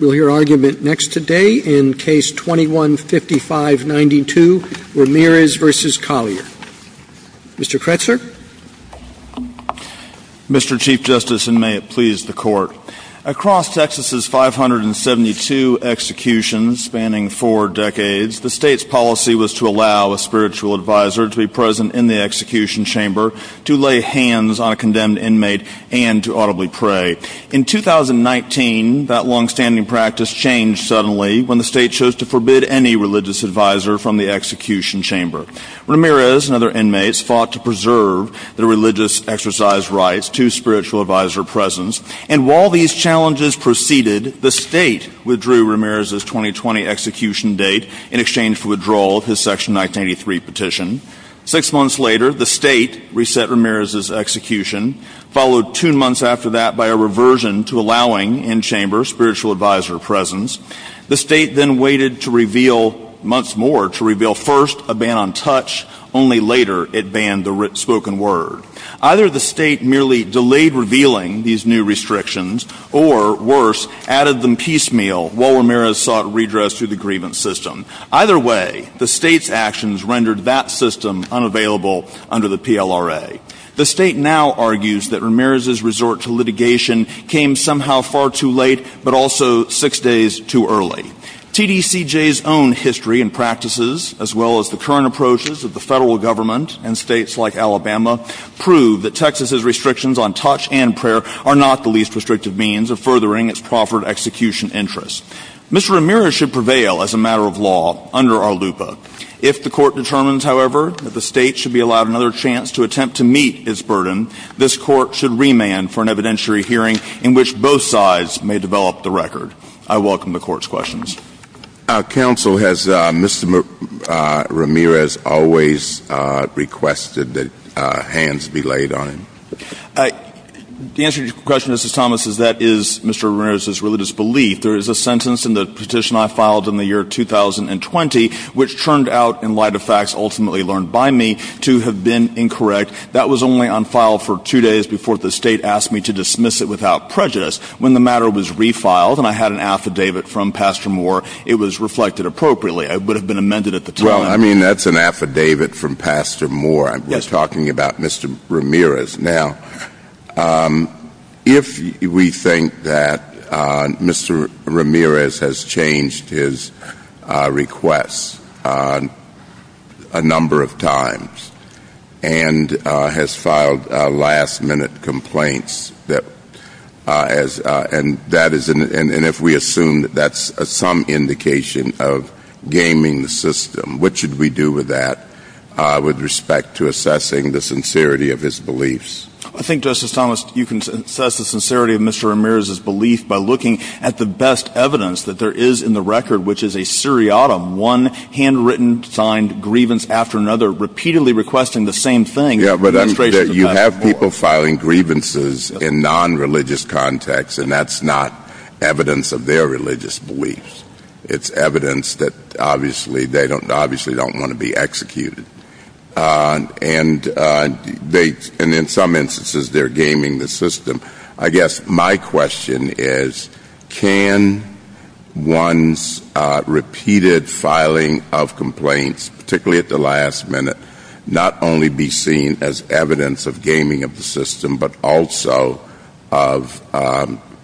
Mr. Chief Justice, and may it please the Court. Across Texas's 572 executions spanning four decades, the state's policy was to allow a spiritual advisor to be present in the execution chamber to lay hands on a condemned inmate and to audibly pray. In 2019, that long-standing practice changed suddenly when the state chose to forbid any religious advisor from the execution chamber. Ramirez and other inmates fought to preserve their religious exercise rights to spiritual advisor presence, and while these challenges proceeded, the state withdrew Ramirez's 2020 execution date in exchange for withdrawal of his Section 1983 petition. Six months later, the state reset Ramirez's execution, followed two months after that by a reversion to allowing in-chamber spiritual advisor presence. The state then waited months more to reveal first a ban on touch, only later it banned the spoken word. Either the state merely delayed revealing these new restrictions or, worse, added them piecemeal while Ramirez sought redress through the grievance system. Either way, the state's actions rendered that system unavailable under the PLRA. The state now argues that Ramirez's resort to litigation came somehow far too late, but also six days too early. TDCJ's own history and practices, as well as the current approaches of the federal government and states like Alabama, prove that Texas's restrictions on touch and prayer are not the least restrictive means of furthering its proffered execution interests. Mr. Ramirez should prevail as a matter of law under our LUPA. If the court determines, however, that the state should be allowed another chance to attempt to meet its burden, this court should remand for an evidentiary hearing in which both sides may develop the record. I welcome the court's questions. Our counsel, has Mr. Ramirez always requested that hands be laid on him? I mean, that's an affidavit from Pastor Moore. We're talking about Mr. Ramirez. I think, Justice Thomas, you can assess the sincerity of Mr. Ramirez's belief by looking at the best evidence that there is in the record, which is a seriatim, one handwritten signed grievance after another, repeatedly requesting the same thing. You have people filing grievances in non-religious contexts, and that's not evidence of their religious beliefs. It's evidence that they obviously don't want to be executed. And in some instances, they're gaming the system. I guess my question is, can one's repeated filing of complaints, particularly at the last minute, not only be seen as evidence of gaming of the system, but also of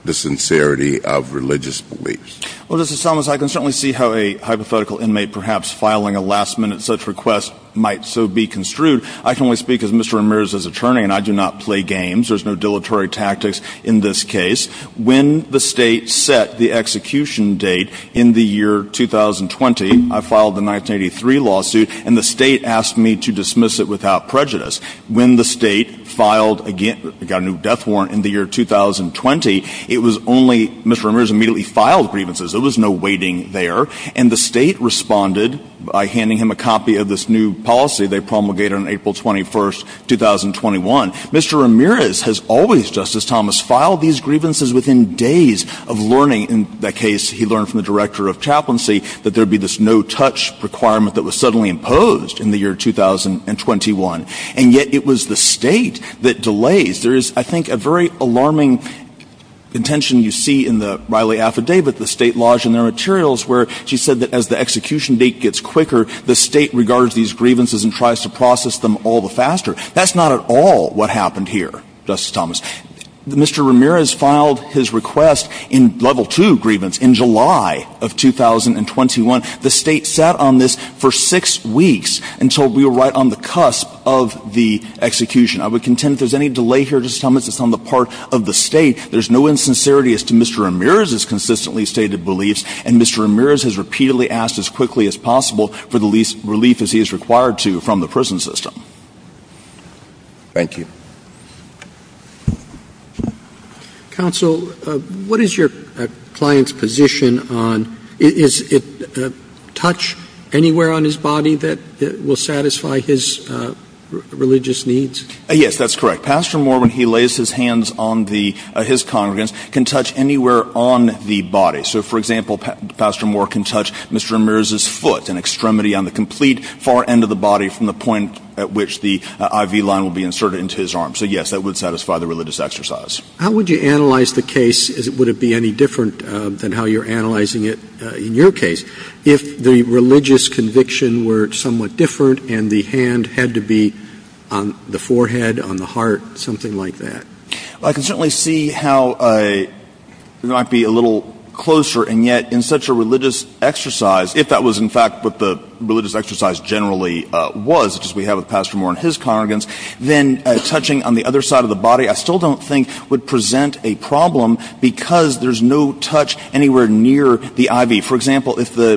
the sincerity of religious beliefs? Well, Justice Thomas, I can certainly see how a hypothetical inmate perhaps filing a last-minute such request might so be construed. I can only speak as Mr. Ramirez's attorney, and I do not play games. There's no dilatory tactics in this case. When the state set the execution date in the year 2020, I filed the 1983 lawsuit, and the state asked me to dismiss it without prejudice. When the state got a new death warrant in the year 2020, Mr. Ramirez immediately filed grievances. There was no waiting there. And the state responded by handing him a copy of this new policy they promulgated on April 21, 2021. Mr. Ramirez has always, Justice Thomas, filed these grievances within days of learning. In that case, he learned from the director of chaplaincy that there would be this no-touch requirement that was suddenly imposed in the year 2021. And yet it was the state that delays. There is, I think, a very alarming contention you see in the Riley affidavit, the state laws and their materials, where she said that as the execution date gets quicker, the state regards these grievances and tries to process them all the faster. That's not at all what happened here, Justice Thomas. Mr. Ramirez filed his request in Level 2 grievance in July of 2021. The state sat on this for six weeks until we were right on the cusp of the execution. I would contend if there's any delay here, Justice Thomas, it's on the part of the state. There's no insincerity as to Mr. Ramirez's consistently stated beliefs, and Mr. Ramirez has repeatedly asked as quickly as possible for the least relief as he is required to from the prison system. Thank you. Counsel, what is your client's position on is it touch anywhere on his body that will satisfy his religious needs? Yes, that's correct. Pastor Moore, when he lays his hands on his congregants, can touch anywhere on the body. So, for example, Pastor Moore can touch Mr. Ramirez's foot, an extremity on the complete far end of the body from the point at which the IV line will be inserted into his arm. So, yes, that would satisfy the religious exercise. How would you analyze the case? Would it be any different than how you're analyzing it in your case, if the religious conviction were somewhat different and the hand had to be on the forehead, on the heart, something like that? I can certainly see how it might be a little closer, and yet in such a religious exercise, if that was in fact what the religious exercise generally was, as we have with Pastor Moore and his congregants, then touching on the other side of the body I still don't think would present a problem because there's no touch anywhere near the IV. For example, if the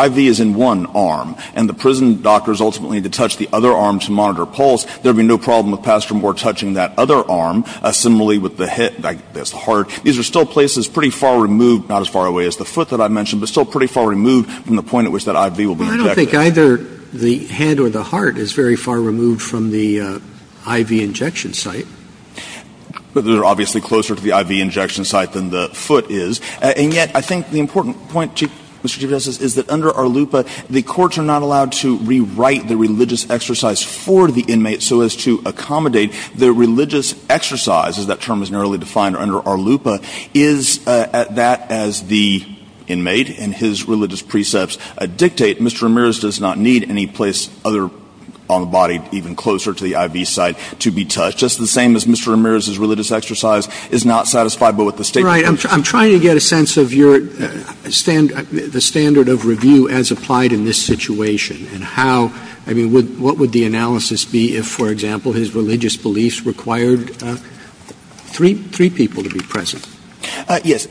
IV is in one arm and the prison doctors ultimately need to touch the other arm to monitor pulse, there would be no problem with Pastor Moore touching that other arm, similarly with the heart. These are still places pretty far removed, not as far away as the foot that I mentioned, but still pretty far removed from the point at which that IV will be injected. I don't think either the hand or the heart is very far removed from the IV injection site. They're obviously closer to the IV injection site than the foot is, and yet I think the important point, Chief Justice, is that under ARLUPA the courts are not allowed to rewrite the religious exercise for the inmate so as to accommodate the religious exercise, as that term is narrowly defined under ARLUPA, is that as the inmate and his religious precepts dictate, Mr. Ramirez does not need any place on the body even closer to the IV site to be touched. Just the same as Mr. Ramirez's religious exercise is not satisfiable with the statement. Right. I'm trying to get a sense of the standard of review as applied in this situation, and what would the analysis be if, for example, his religious beliefs required three people to be present? Yes.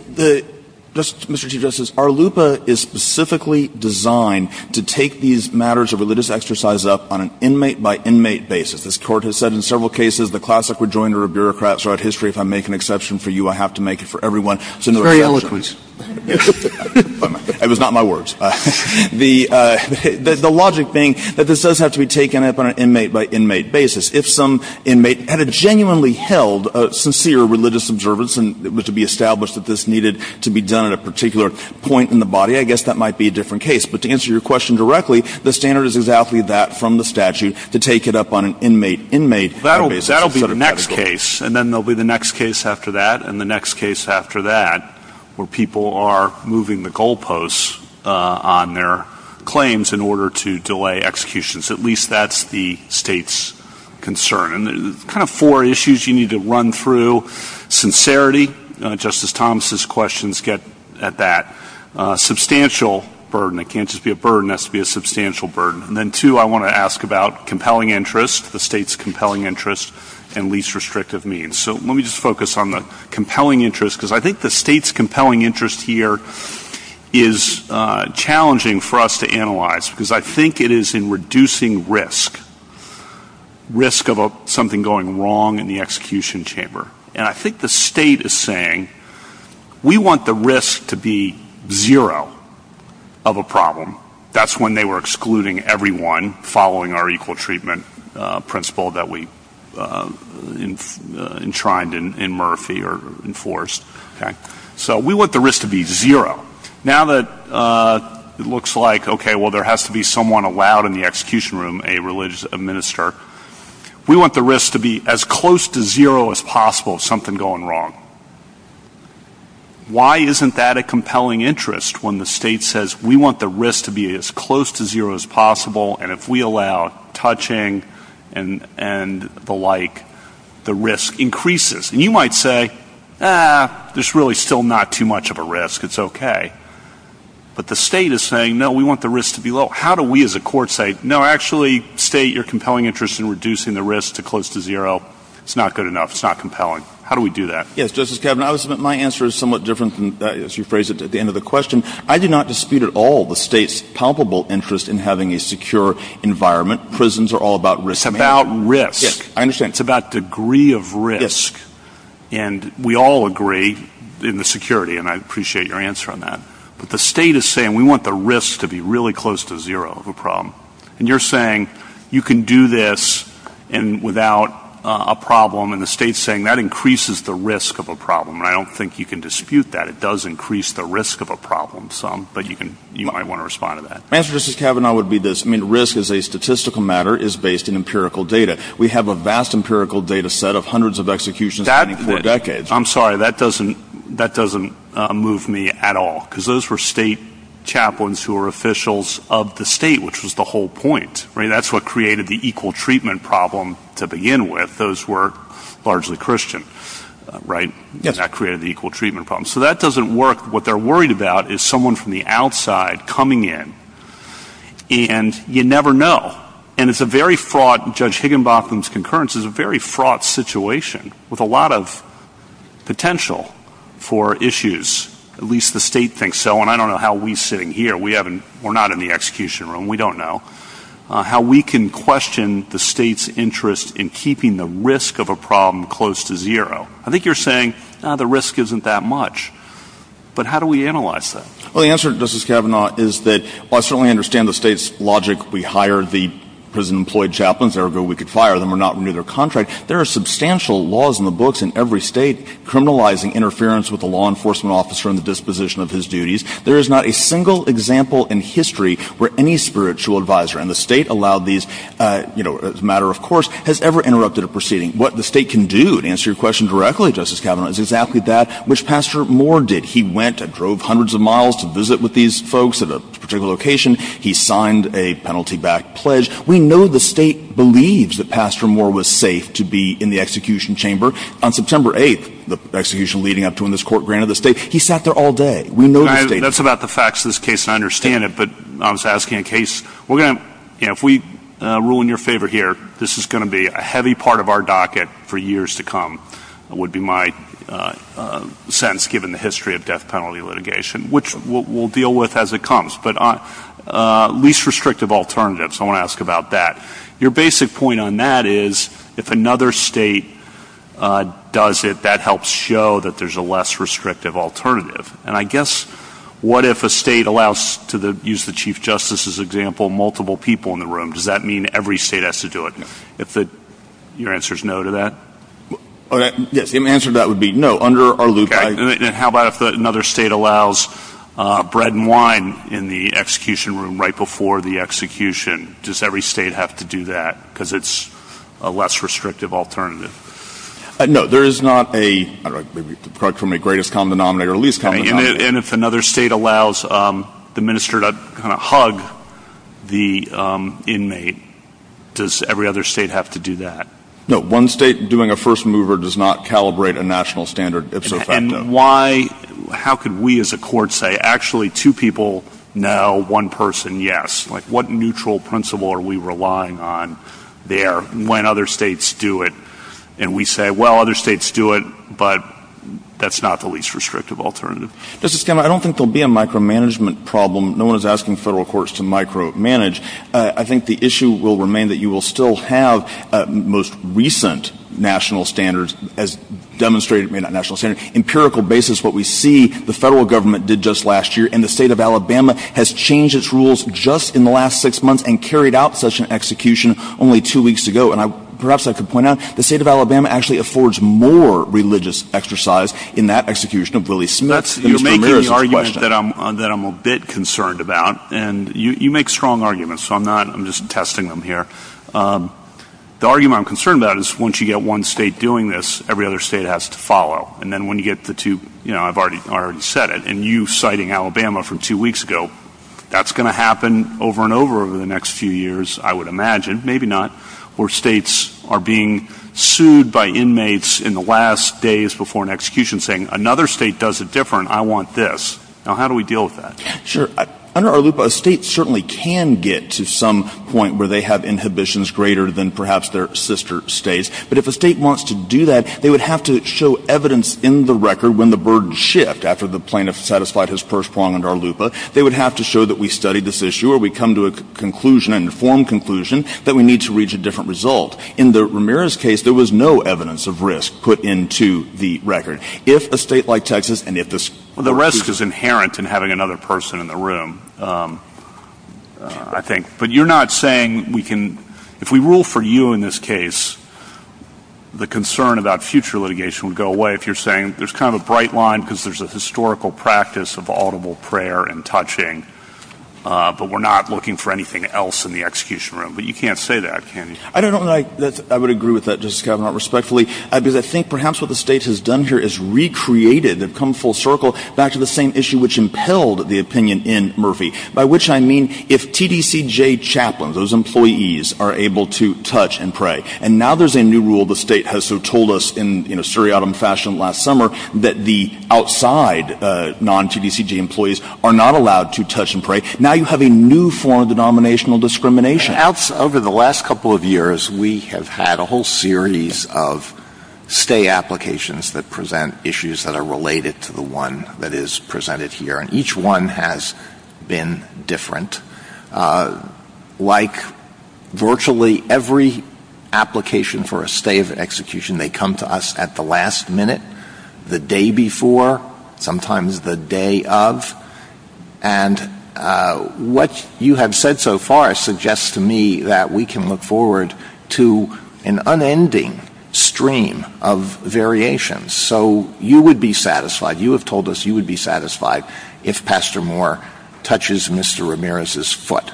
Mr. Chief Justice, ARLUPA is specifically designed to take these matters of religious exercise up on an inmate-by-inmate basis. As the Court has said in several cases, the classic rejoinder of bureaucrats throughout history, if I make an exception for you, I have to make it for everyone. Very eloquent. It was not my words. The logic being that this does have to be taken up on an inmate-by-inmate basis. If some inmate had genuinely held a sincere religious observance and it was to be established that this needed to be done at a particular point in the body, I guess that might be a different case. But to answer your question directly, the standard is exactly that from the statute, to take it up on an inmate-by-inmate basis. That will be the next case, and then there will be the next case after that, and the next case after that, where people are moving the goalposts on their claims in order to delay execution. At least that's the state's concern. There are four issues you need to run through. Sincerity, Justice Thomas's questions get at that. Substantial burden, it can't just be a burden, it has to be a substantial burden. And then two, I want to ask about compelling interest, the state's compelling interest, and least restrictive means. So let me just focus on the compelling interest, because I think the state's compelling interest here is challenging for us to analyze, because I think it is in reducing risk, risk of something going wrong in the execution chamber. And I think the state is saying, we want the risk to be zero of a problem. That's when they were excluding everyone following our equal treatment principle that we enshrined in Murphy or enforced. So we want the risk to be zero. Now that it looks like, okay, well, there has to be someone allowed in the execution room, a religious minister, we want the risk to be as close to zero as possible of something going wrong. Why isn't that a compelling interest when the state says, we want the risk to be as close to zero as possible, and if we allow touching and the like, the risk increases? And you might say, ah, there's really still not too much of a risk, it's okay. But the state is saying, no, we want the risk to be low. How do we as a court say, no, actually, state, you're compelling interest in reducing the risk to close to zero, it's not good enough, it's not compelling. How do we do that? Yes, Justice Kavanaugh, my answer is somewhat different than you phrased it at the end of the question. I did not dispute at all the state's palpable interest in having a secure environment. Prisons are all about risk. It's about risk. Yes, I understand. It's about degree of risk. Yes. And we all agree in the security, and I appreciate your answer on that, but the state is saying, we want the risk to be really close to zero of a problem. And you're saying, you can do this without a problem, and the state's saying, that increases the risk of a problem. And I don't think you can dispute that. It does increase the risk of a problem some, but you might want to respond to that. My answer, Justice Kavanaugh, would be this. I mean, risk as a statistical matter is based in empirical data. We have a vast empirical data set of hundreds of executions over decades. I'm sorry, that doesn't move me at all, because those were state chaplains who were officials of the state, which was the whole point. That's what created the equal treatment problem to begin with. Those were largely Christian, right? Yes. That created the equal treatment problem. So that doesn't work. What they're worried about is someone from the outside coming in, and you never know. And it's a very fraught, Judge Higginbotham's concurrence, it's a very fraught situation with a lot of potential for issues. At least the state thinks so, and I don't know how we sitting here, we're not in the execution room, we don't know, how we can question the state's interest in keeping the risk of a problem close to zero. I think you're saying, the risk isn't that much. But how do we analyze that? Well, the answer, Justice Kavanaugh, is that while I certainly understand the state's logic, we hired the prison-employed chaplains, therefore we could fire them or not renew their contract. There are substantial laws in the books in every state criminalizing interference with a law enforcement officer in the disposition of his duties. There is not a single example in history where any spiritual advisor, and the state allowed these as a matter of course, has ever interrupted a proceeding. What the state can do, to answer your question directly, Justice Kavanaugh, is exactly that, which Pastor Moore did. He went and drove hundreds of miles to visit with these folks at a particular location. He signed a penalty-backed pledge. We know the state believes that Pastor Moore was safe to be in the execution chamber. On September 8th, the execution leading up to when this court granted the state, he sat there all day. That's about the facts of this case, I understand it, but I was asking in case, if we rule in your favor here, this is going to be a heavy part of our docket for years to come, would be my sense, given the history of death penalty litigation, which we'll deal with as it comes. Least restrictive alternatives, I want to ask about that. Your basic point on that is, if another state does it, that helps show that there's a less restrictive alternative. I guess, what if a state allows, to use the Chief Justice's example, multiple people in the room? Does that mean every state has to do it? Your answer is no to that? My answer to that would be no, under our loop. How about if another state allows bread and wine in the execution room right before the execution? Does every state have to do that, because it's a less restrictive alternative? No, there is not a, approximately, greatest common denominator or least common denominator. And if another state allows the minister to kind of hug the inmate, does every other state have to do that? No, one state doing a first mover does not calibrate a national standard, if so effective. And why, how could we as a court say, actually, two people, now one person, yes? Like, what neutral principle are we relying on there when other states do it? And we say, well, other states do it, but that's not the least restrictive alternative. Justice Gamma, I don't think there will be a micromanagement problem. No one is asking federal courts to micromanage. I think the issue will remain that you will still have most recent national standards, as demonstrated by that national standard. Empirical basis, what we see, the federal government did just last year, and the state of Alabama has changed its rules just in the last six months and carried out such an execution only two weeks ago. And perhaps I could point out, the state of Alabama actually affords more religious exercise in that execution of Willie Smith. That's the argument that I'm a bit concerned about. And you make strong arguments, so I'm not, I'm just testing them here. The argument I'm concerned about is once you get one state doing this, every other state has to follow. And then when you get the two, you know, I've already said it, and you citing Alabama from two weeks ago, that's going to happen over and over over the next few years, I would imagine, maybe not, where states are being sued by inmates in the last days before an execution, saying another state does it different, I want this. Now how do we deal with that? Sure. Under ARLUPA, a state certainly can get to some point where they have inhibitions greater than perhaps their sister states. But if a state wants to do that, they would have to show evidence in the record when the burdens shift. After the plaintiff satisfied his first prong under ARLUPA, they would have to show that we studied this issue or we come to a conclusion, an informed conclusion, that we need to reach a different result. In the Ramirez case, there was no evidence of risk put into the record. If a state like Texas, and if there's... Well, the risk is inherent in having another person in the room, I think. But you're not saying we can, if we rule for you in this case, the concern about future litigation would go away. If you're saying there's kind of a bright line because there's a historical practice of audible prayer and touching, but we're not looking for anything else in the execution room. But you can't say that, can you? I don't know that I would agree with that, Justice Kavanaugh, respectfully, because I think perhaps what the state has done here is recreated, come full circle, back to the same issue which impelled the opinion in Murphy, by which I mean, if TTCJ chaplains, those employees, are able to touch and pray, and now there's a new rule the state has told us in a surreal fashion last summer, that the outside non-TTCJ employees are not allowed to touch and pray, now you have a new form of denominational discrimination. Over the last couple of years, we have had a whole series of stay applications that present issues that are related to the one that is presented here, and each one has been different. Like virtually every application for a stay of execution, they come to us at the last minute, the day before, sometimes the day of, and what you have said so far suggests to me that we can look forward to an unending stream of variations. So you would be satisfied, you have told us you would be satisfied, if Pastor Moore touches Mr. Ramirez's foot.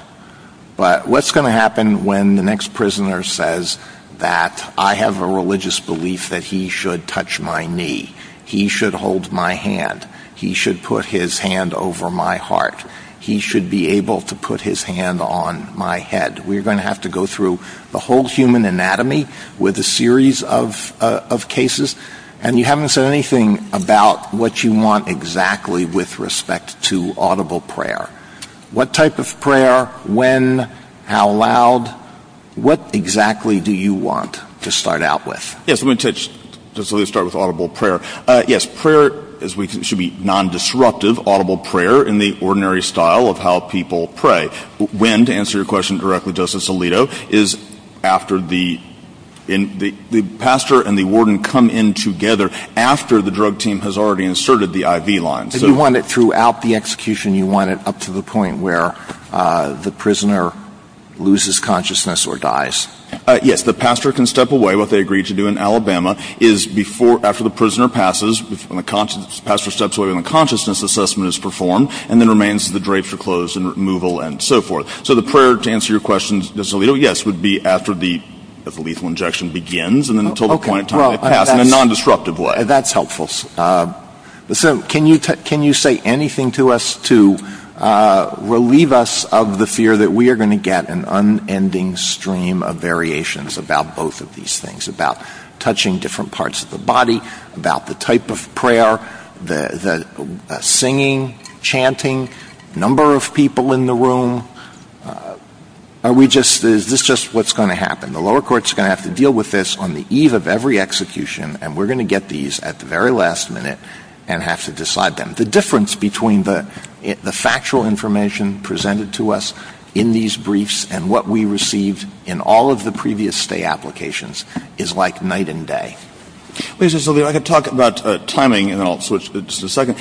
But what's going to happen when the next prisoner says that, I have a religious belief that he should touch my knee, he should hold my hand, he should put his hand over my heart, he should be able to put his hand on my head. We're going to have to go through the whole human anatomy with a series of cases, and you haven't said anything about what you want exactly with respect to audible prayer. What type of prayer, when, how loud, what exactly do you want to start out with? Yes, I'm going to start with audible prayer. Yes, prayer should be non-disruptive audible prayer in the ordinary style of how people pray. When, to answer your question directly, Justice Alito, is after the pastor and the warden come in together, after the drug team has already inserted the IV lines. Do you want it throughout the execution, do you want it up to the point where the prisoner loses consciousness or dies? Yes, the pastor can step away, what they agreed to do in Alabama, is before, after the prisoner passes, when the pastor steps away when the consciousness assessment is performed, and then remains to the drapes are closed and removal and so forth. So the prayer, to answer your question, Justice Alito, yes, would be after the lethal injection begins, and then until the point when it's passed in a non-disruptive way. That's helpful. Can you say anything to us to relieve us of the fear that we are going to get an unending stream of variations about both of these things, the singing, chanting, number of people in the room. Is this just what's going to happen? The lower courts are going to have to deal with this on the eve of every execution, and we're going to get these at the very last minute and have to decide them. The difference between the factual information presented to us in these briefs and what we received in all of the previous stay applications is like night and day. Justice Alito, I could talk about timing, and then I'll switch to the second.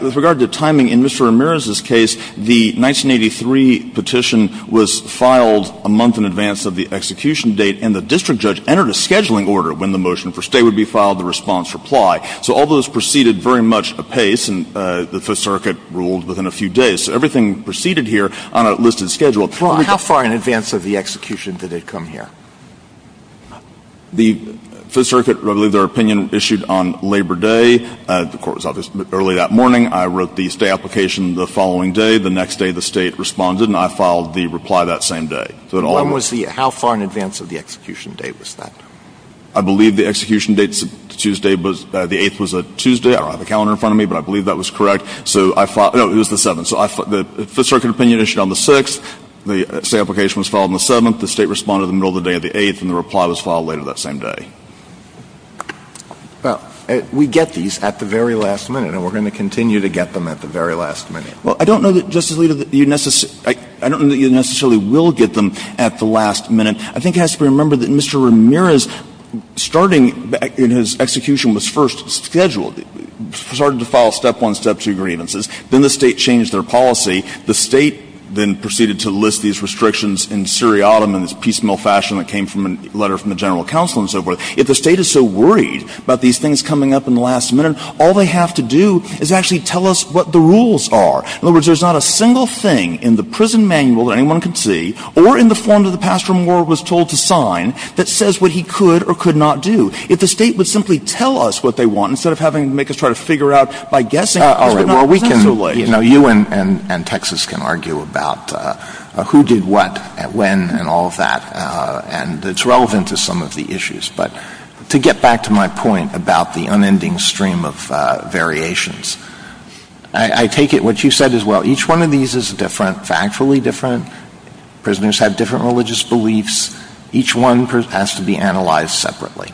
With regard to timing, in Mr. Ramirez's case, the 1983 petition was filed a month in advance of the execution date, and the district judge entered a scheduling order when the motion for stay would be filed, the response reply. So all those proceeded very much apace, and the Fifth Circuit ruled within a few days. So everything proceeded here on a listed schedule. How far in advance of the execution did it come here? The Fifth Circuit, I believe their opinion issued on Labor Day. The court was up early that morning. I wrote the stay application the following day. The next day, the state responded, and I filed the reply that same day. How far in advance of the execution date was that? I believe the execution date Tuesday, the 8th was a Tuesday. I don't have a calendar in front of me, but I believe that was correct. No, it was the 7th. The Fifth Circuit opinion issued on the 6th. The stay application was filed on the 7th. The state responded in the middle of the day of the 8th, and the reply was filed later that same day. Well, we get these at the very last minute, and we're going to continue to get them at the very last minute. Well, I don't know that, Justice Alito, you necessarily will get them at the last minute. I think it has to be remembered that Mr. Ramirez, starting in his execution, was first scheduled, started to file step-one, step-two grievances. Then the state changed their policy. The state then proceeded to list these restrictions in seriatim in this piecemeal fashion that came from a letter from the general counsel and so forth. If the state is so worried about these things coming up in the last minute, all they have to do is actually tell us what the rules are. In other words, there's not a single thing in the prison manual that anyone can see or in the form that the pastoral ward was told to sign that says what he could or could not do. If the state would simply tell us what they want instead of having to make us try to figure out by guessing. You and Texas can argue about who did what and when and all of that, and it's relevant to some of the issues. But to get back to my point about the unending stream of variations, I take it what you said as well. Each one of these is different, factually different. Prisoners have different religious beliefs. Each one has to be analyzed separately.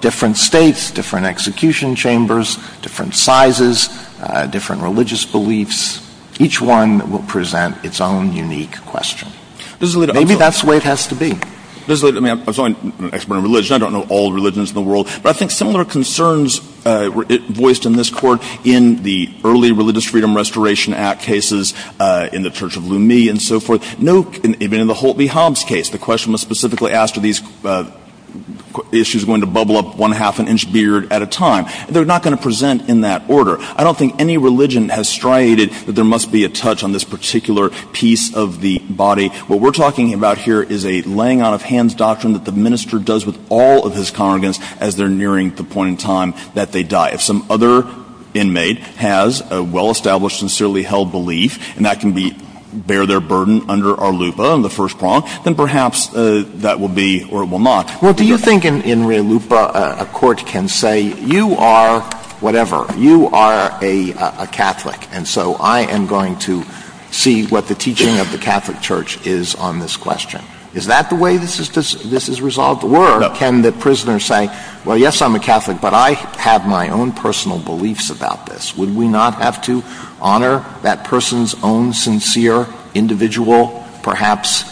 Different states, different execution chambers, different sizes, different religious beliefs. Each one will present its own unique question. Maybe that's the way it has to be. I'm not an expert in religion. I don't know all the religions in the world. But I think similar concerns were voiced in this court in the early Religious Freedom Restoration Act cases, in the Church of Lumi and so forth. Even in the Holt v. Hobbs case, the question was specifically asked are these issues going to bubble up one half an inch beard at a time. They're not going to present in that order. I don't think any religion has striated that there must be a touch on this particular piece of the body. What we're talking about here is a laying out of hands doctrine that the minister does with all of his congregants as they're nearing the point in time that they die. If some other inmate has a well-established, sincerely held belief, and that can bear their burden under our LUPA on the first prong, then perhaps that will be or it will not. Well, do you think in real LUPA a court can say you are whatever. You are a Catholic. And so I am going to see what the teaching of the Catholic Church is on this question. Is that the way this is resolved? Can the prisoner say, well, yes, I'm a Catholic, but I have my own personal beliefs about this. Would we not have to honor that person's own sincere, individual, perhaps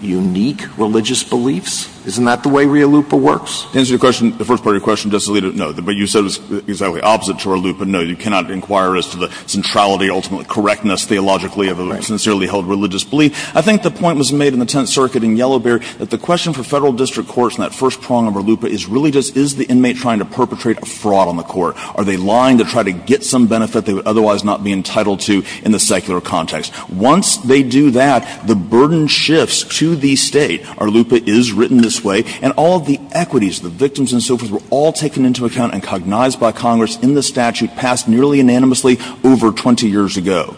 unique religious beliefs? Isn't that the way real LUPA works? To answer your question, the first part of your question does lead to no. But you said this exactly opposite to our LUPA. No, you cannot inquire as to the centrality, ultimate correctness theologically of a sincerely held religious belief. I think the point was made in the Tenth Circuit in Yellow Bear that the question for federal district courts in that first prong of our LUPA is really just, is the inmate trying to perpetrate a fraud on the court? Are they lying to try to get some benefit they would otherwise not be entitled to in the secular context? Once they do that, the burden shifts to the state. Our LUPA is written this way. And all of the equities, the victims and so forth, were all taken into account and cognized by Congress in the statute passed nearly unanimously over 20 years ago.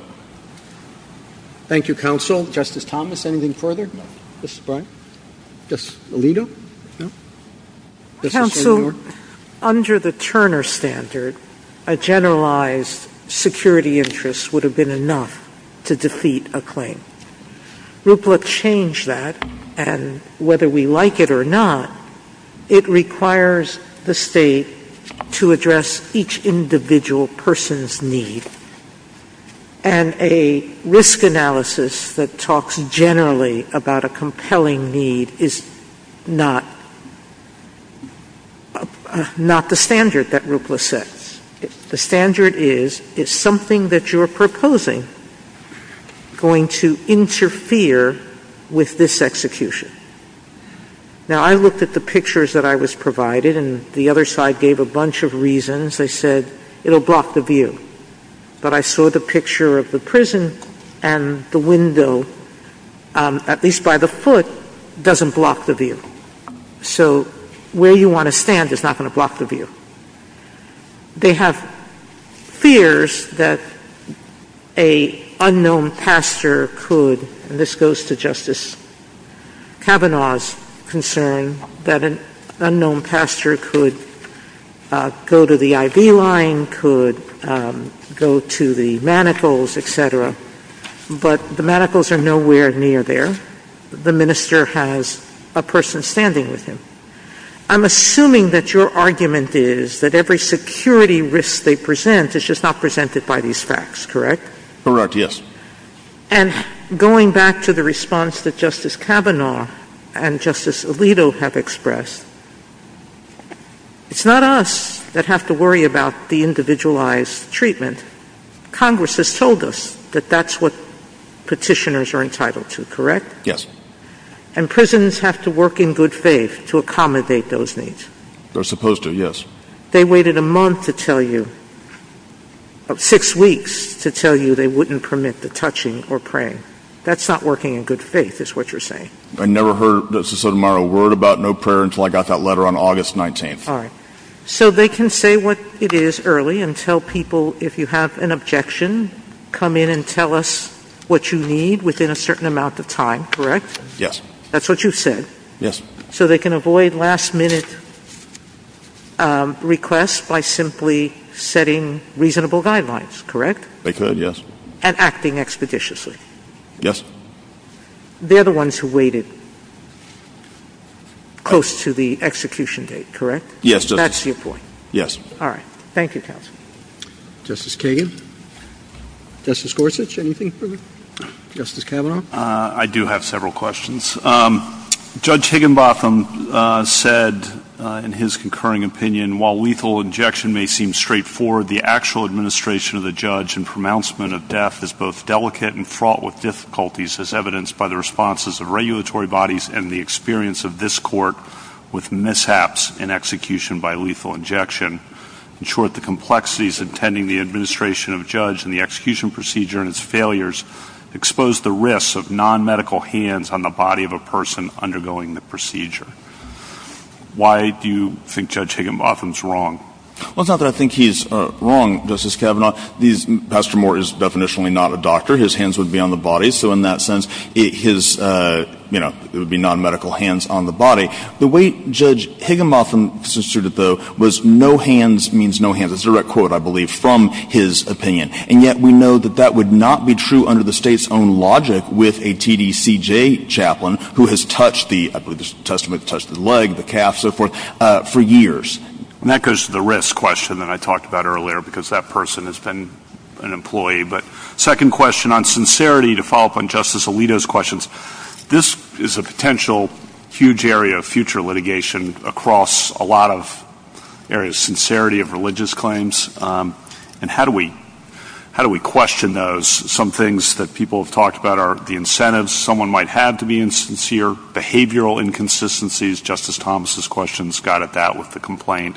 Thank you, Counsel. Justice Thomas, anything further? No. Justice Blunt? No. Justice Alito? No. Counsel, under the Turner Standard, a generalized security interest would have been enough to defeat a claim. RUPLA changed that, and whether we like it or not, it requires the state to address each individual person's need. And a risk analysis that talks generally about a compelling need is not the standard that RUPLA sets. The standard is, is something that you're proposing going to interfere with this execution? Now, I looked at the pictures that I was provided, and the other side gave a bunch of reasons. They said, it'll block the view. But I saw the picture of the prison, and the window, at least by the foot, doesn't block the view. So, where you want to stand is not going to block the view. They have fears that an unknown pastor could, and this goes to Justice Kavanaugh's concern, that an unknown pastor could go to the IV line, could go to the manacles, etc. But the manacles are nowhere near there. The minister has a person standing with him. I'm assuming that your argument is that every security risk they present is just not presented by these facts, correct? Correct, yes. And going back to the response that Justice Kavanaugh and Justice Alito have expressed, It's not us that have to worry about the individualized treatment. Congress has told us that that's what petitioners are entitled to, correct? Yes. And prisoners have to work in good faith to accommodate those needs. They're supposed to, yes. They waited a month to tell you, six weeks to tell you they wouldn't permit the touching or praying. That's not working in good faith, is what you're saying. I never heard Justice Sotomayor worried about no prayer until I got that letter on August 19th. So they can say what it is early and tell people if you have an objection, come in and tell us what you need within a certain amount of time, correct? Yes. That's what you said. Yes. So they can avoid last minute requests by simply setting reasonable guidelines, correct? They could, yes. And acting expeditiously. Yes. They're the ones who waited close to the execution date, correct? Yes. That's your point. Yes. All right. Thank you, counsel. Justice Kagan? Justice Gorsuch, anything further? Justice Kavanaugh? I do have several questions. Judge Higginbotham said in his concurring opinion, while lethal injection may seem straightforward, the actual administration of the judge and pronouncement of death is both delicate and fraught with difficulties, as evidenced by the responses of regulatory bodies and the experience of this court with mishaps in execution by lethal injection. In short, the complexities intending the administration of a judge and the execution procedure and its failures expose the risks of non-medical hands on the body of a person undergoing the procedure. Why do you think Judge Higginbotham is wrong? Well, it's not that I think he's wrong, Justice Kavanaugh. Pastor Moore is definitionally not a doctor. His hands would be on the body. So in that sense, it would be non-medical hands on the body. The way Judge Higginbotham instituted it, though, was no hands means no hands. It's a direct quote, I believe, from his opinion. And yet we know that that would not be true under the state's own logic with a TDCJ chaplain, who has touched the leg, the calf, so forth, for years. And that goes to the risk question that I talked about earlier, because that person has been an employee. But second question, on sincerity, to follow up on Justice Alito's questions. This is a potential huge area of future litigation across a lot of areas. Sincerity of religious claims, and how do we question those? Some things that people have talked about are the incentives someone might have to be sincere, behavioral inconsistencies, Justice Thomas's questions got at that with the complaint,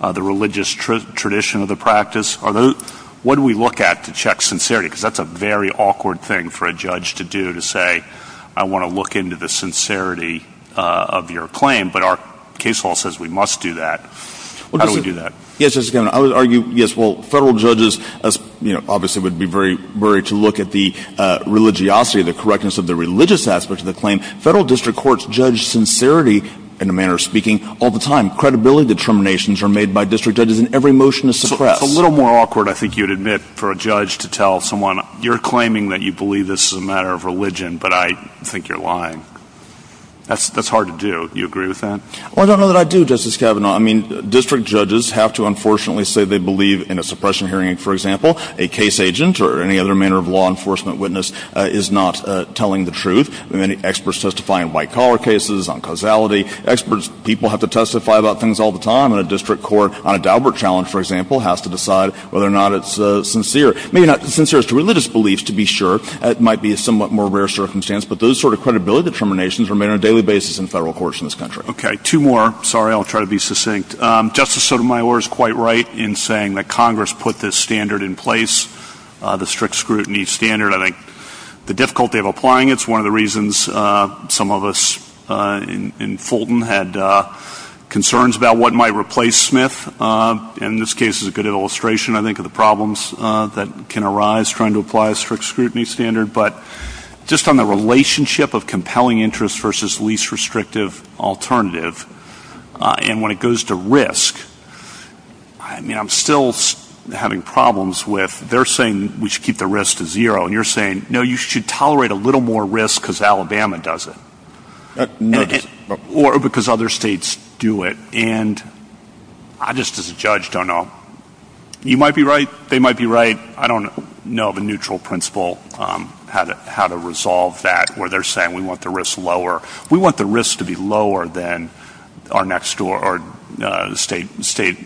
the religious tradition of the practice. What do we look at to check sincerity? Because that's a very awkward thing for a judge to do, to say, I want to look into the sincerity of your claim, but our case law says we must do that. How do we do that? Yes, I was going to argue, yes, well, federal judges obviously would be very worried to look at the religiosity, the correctness of the religious aspects of the claim. Federal district courts judge sincerity, in a manner of speaking, all the time. Credibility determinations are made by district judges in every motion to suppress. It's a little more awkward, I think you'd admit, for a judge to tell someone, you're claiming that you believe this is a matter of religion, but I think you're lying. That's hard to do. Do you agree with that? Well, I don't know that I do, Justice Kavanaugh. I mean, district judges have to unfortunately say they believe in a suppression hearing. For example, a case agent or any other manner of law enforcement witness is not telling the truth. Many experts testify in white-collar cases, on causality. Experts, people have to testify about things all the time, and a district court on a Daubert challenge, for example, has to decide whether or not it's sincere. Sincere is to religious beliefs, to be sure. It might be a somewhat more rare circumstance, but those sort of credibility determinations are made on a daily basis in federal courts in this country. Okay, two more. Sorry, I'll try to be succinct. Justice Sotomayor is quite right in saying that Congress put this standard in place, the strict scrutiny standard. I think the difficulty of applying it is one of the reasons some of us in Fulton had concerns about what might replace Smith. And in this case, it's a good illustration, I think, of the problems that can arise trying to apply a strict scrutiny standard. But just on the relationship of compelling interest versus least restrictive alternative, and when it goes to risk, I mean, I'm still having problems with their saying we should keep the risk to zero. And you're saying, no, you should tolerate a little more risk because Alabama does it. Or because other states do it. And I just as a judge don't know. You might be right. They might be right. I don't know of a neutral principle how to resolve that where they're saying we want the risk lower. We want the risk to be lower than our next door or another state. Justice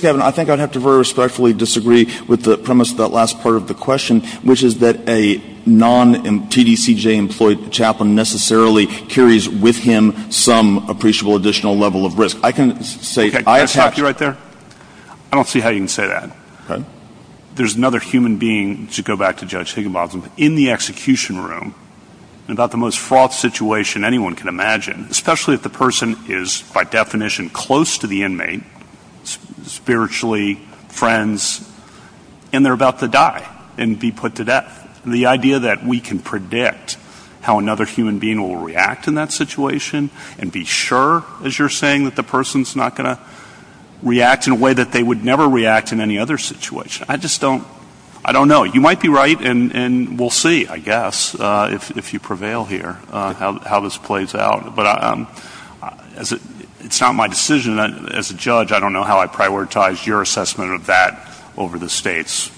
Gabbard, I think I'd have to respectfully disagree with the premise of that last part of the question, which is that a non-TDCJ-employed chaplain necessarily carries with him some appreciable additional level of risk. I can say – Can I stop you right there? I don't see how you can say that. There's another human being, to go back to Judge Higginbotham, especially if the person is by definition close to the inmate, spiritually friends, and they're about to die and be put to death. The idea that we can predict how another human being will react in that situation and be sure, as you're saying, that the person's not going to react in a way that they would never react in any other situation. I just don't – I don't know. You might be right, and we'll see, I guess, if you prevail here, how this plays out. But it's not my decision. As a judge, I don't know how I prioritize your assessment of that over the state's.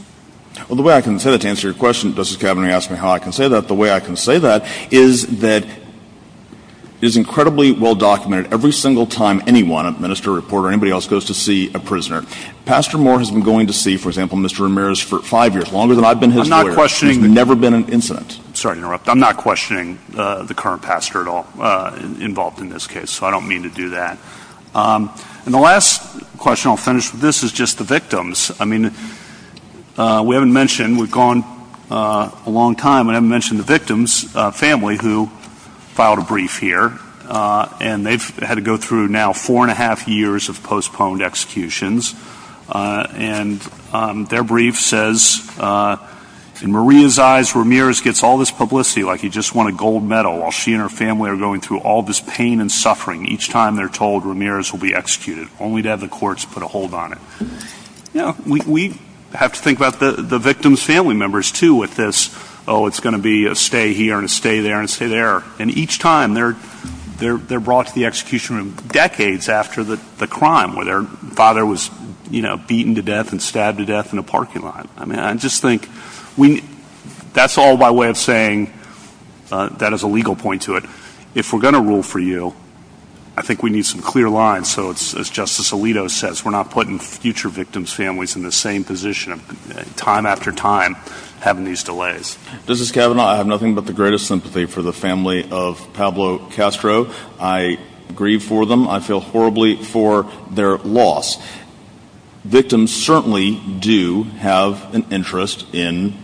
Well, the way I can say that – to answer your question, Justice Kavanaugh, you asked me how I can say that. The way I can say that is that it is incredibly well documented. Every single time anyone – a minister, a reporter, anybody else – goes to see a prisoner, Pastor Moore has been going to see, for example, Mr. Ramirez for five years, longer than I've been his lawyer. I'm not questioning – There's never been an incident. Sorry to interrupt. I'm not questioning the current pastor at all involved in this case, so I don't mean to do that. And the last question I'll finish with this is just the victims. I mean, we haven't mentioned – we've gone a long time – we haven't mentioned the victims' family who filed a brief here, and they've had to go through now four and a half years of postponed executions. And their brief says, In Maria's eyes, Ramirez gets all this publicity like he just won a gold medal, while she and her family are going through all this pain and suffering each time they're told Ramirez will be executed, only to have the courts put a hold on him. We have to think about the victims' family members, too, with this, oh, it's going to be a stay here and a stay there and a stay there. And each time, they're brought to the execution room decades after the crime, where their father was beaten to death and stabbed to death in a parking lot. I mean, I just think we – that's all by way of saying that is a legal point to it. If we're going to rule for you, I think we need some clear lines, so it's – as Justice Alito says, we're not putting future victims' families in the same position, time after time, having these delays. This is Kevin. I have nothing but the greatest sympathy for the family of Pablo Castro. I grieve for them. I feel horribly for their loss. Victims certainly do have an interest in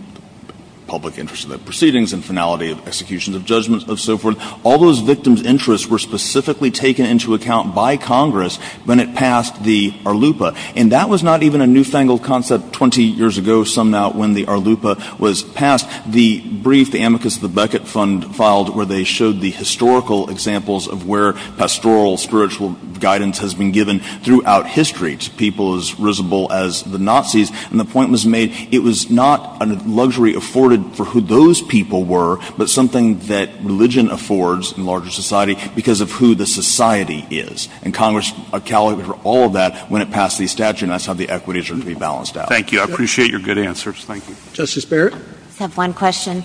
public interest in their proceedings, in finality of executions, of judgments, of so forth. All those victims' interests were specifically taken into account by Congress when it passed the ARLUPA. And that was not even a newfangled concept 20 years ago, somehow, when the ARLUPA was passed. The brief, the amicus of the Beckett Fund, filed where they showed the historical examples of where pastoral, spiritual guidance has been given throughout history to people as risible as the Nazis, and the point was made, it was not a luxury afforded for who those people were, but something that religion affords in larger society because of who the society is. And Congress accounted for all of that when it passed the statute, and that's how the equities are to be balanced out. Thank you. I appreciate your good answers. Thank you. Justice Barrett? I have one question.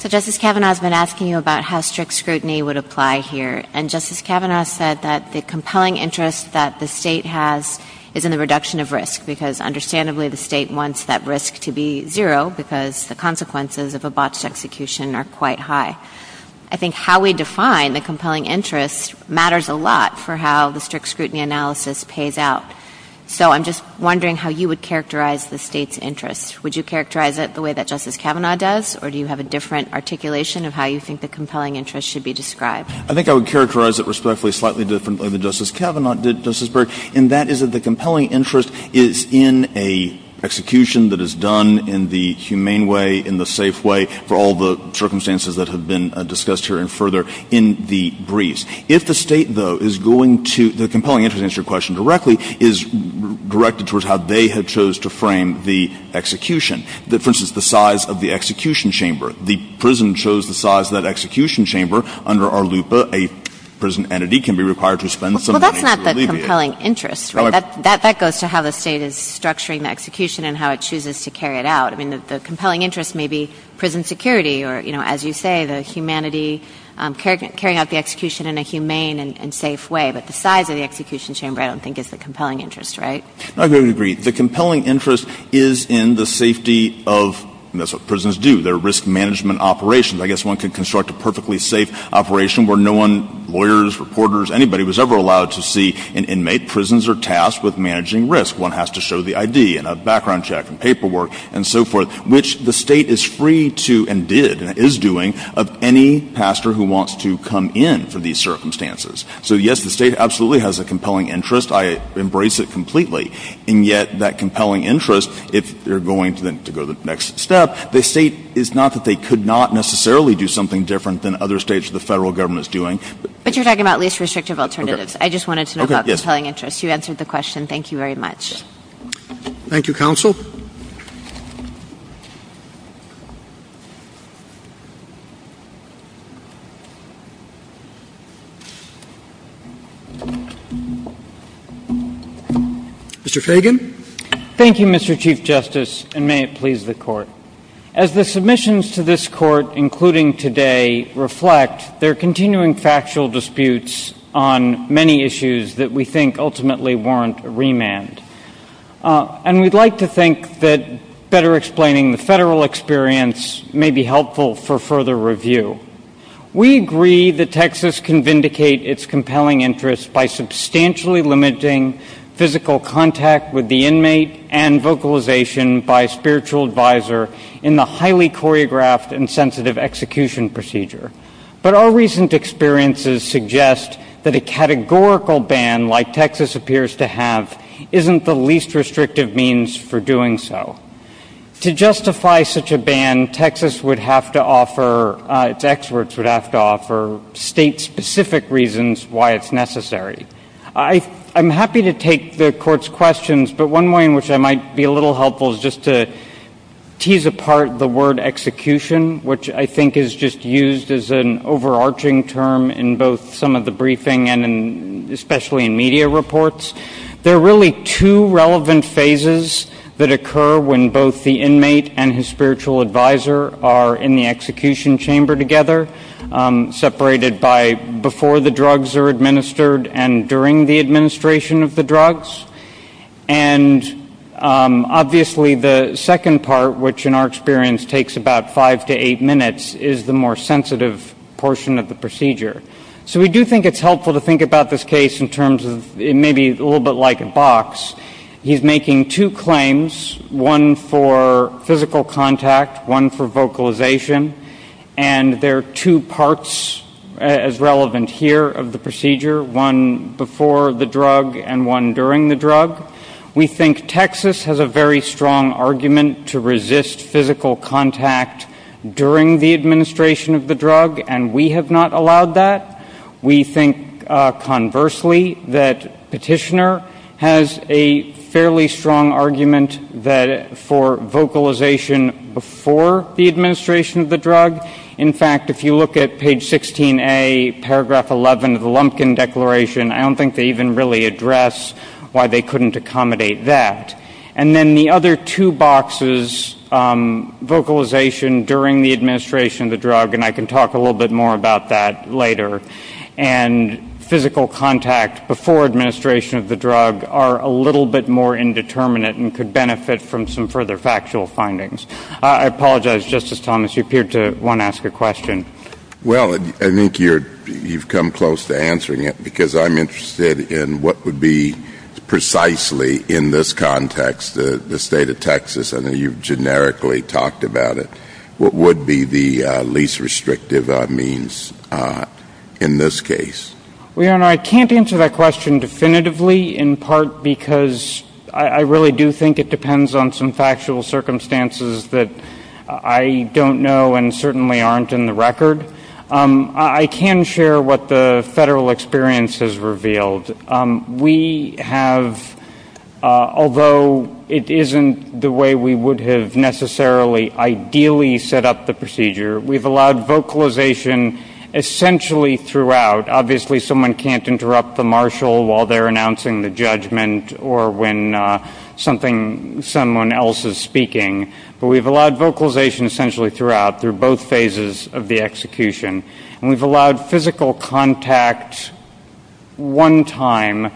So Justice Kavanaugh has been asking you about how strict scrutiny would apply here, and Justice Kavanaugh said that the compelling interest that the state has is in the reduction of risk because, understandably, the state wants that risk to be zero because the consequences of a botched execution are quite high. I think how we define the compelling interest matters a lot for how the strict scrutiny analysis pays out. So I'm just wondering how you would characterize the state's interest. Would you characterize it the way that Justice Kavanaugh does, or do you have a different articulation of how you think the compelling interest should be described? I think I would characterize it respectfully slightly differently than Justice Kavanaugh did, Justice Barrett, and that is that the compelling interest is in an execution that is done in the humane way, in the safe way for all the circumstances that have been discussed here and further in the briefs. If the state, though, is going to—the compelling interest, to answer your question directly, is directed towards how they have chose to frame the execution. For instance, the size of the execution chamber. The prison shows the size of that execution chamber. Under our LUPA, a prison entity can be required to spend some money to alleviate— Well, that's not the compelling interest, right? That goes to how the state is structuring the execution and how it chooses to carry it out. I mean, the compelling interest may be prison security or, you know, as you say, the humanity, carrying out the execution in a humane and safe way, but the size of the execution chamber I don't think is the compelling interest, right? I completely agree. The compelling interest is in the safety of—that's what prisons do. They're risk management operations. I guess one can construct a perfectly safe operation where no one, lawyers, reporters, anybody was ever allowed to see an inmate. Prisons are tasked with managing risk. One has to show the ID and a background check and paperwork and so forth, which the state is free to and did and is doing of any pastor who wants to come in for these circumstances. So, yes, the state absolutely has a compelling interest. I embrace it completely. And yet that compelling interest, if you're going to go to the next step, the state—it's not that they could not necessarily do something different than other states the federal government is doing. But you're talking about least restrictive alternatives. I just wanted to know about compelling interest. You answered the question. Thank you very much. Thank you, counsel. Mr. Fagan. Thank you, Mr. Chief Justice, and may it please the Court. As the submissions to this Court, including today, reflect, there are continuing factual disputes on many issues that we think ultimately warrant a remand. And we'd like to think that better explaining the federal experience may be helpful for further review. We agree that Texas can vindicate its compelling interest by substantially limiting physical contact with the inmate and vocalization by a spiritual advisor in the highly choreographed and sensitive execution procedure. But our recent experiences suggest that a categorical ban like Texas appears to have isn't the least restrictive means for doing so. To justify such a ban, Texas would have to offer—its experts would have to offer state-specific reasons why it's necessary. I'm happy to take the Court's questions, but one way in which I might be a little helpful is just to tease apart the word execution, which I think is just used as an overarching term in both some of the briefing and especially in media reports. There are really two relevant phases that occur when both the inmate and his spiritual advisor are in the execution chamber together, separated by before the drugs are administered and during the administration of the drugs. And obviously the second part, which in our experience takes about five to eight minutes, is the more sensitive portion of the procedure. So we do think it's helpful to think about this case in terms of—it may be a little bit like a box. He's making two claims, one for physical contact, one for vocalization, and there are two parts as relevant here of the procedure, one before the drug and one during the drug. We think Texas has a very strong argument to resist physical contact during the administration of the drug, and we have not allowed that. We think, conversely, that Petitioner has a fairly strong argument for vocalization before the administration of the drug. In fact, if you look at page 16A, paragraph 11 of the Lumpkin Declaration, I don't think they even really address why they couldn't accommodate that. And then the other two boxes, vocalization during the administration of the drug, and I can talk a little bit more about that later, and physical contact before administration of the drug are a little bit more indeterminate and could benefit from some further factual findings. I apologize, Justice Thomas, you appeared to want to ask a question. Well, I think you've come close to answering it because I'm interested in what would be precisely, in this context, the state of Texas. I know you've generically talked about it. What would be the least restrictive means in this case? Well, Your Honor, I can't answer that question definitively, in part because I really do think it depends on some factual circumstances that I don't know and certainly aren't in the record. I can share what the federal experience has revealed. We have, although it isn't the way we would have necessarily ideally set up the procedure, we've allowed vocalization essentially throughout. Obviously someone can't interrupt the marshal while they're announcing the judgment or when someone else is speaking, but we've allowed vocalization essentially throughout, through both phases of the execution, and we've allowed physical contact one time,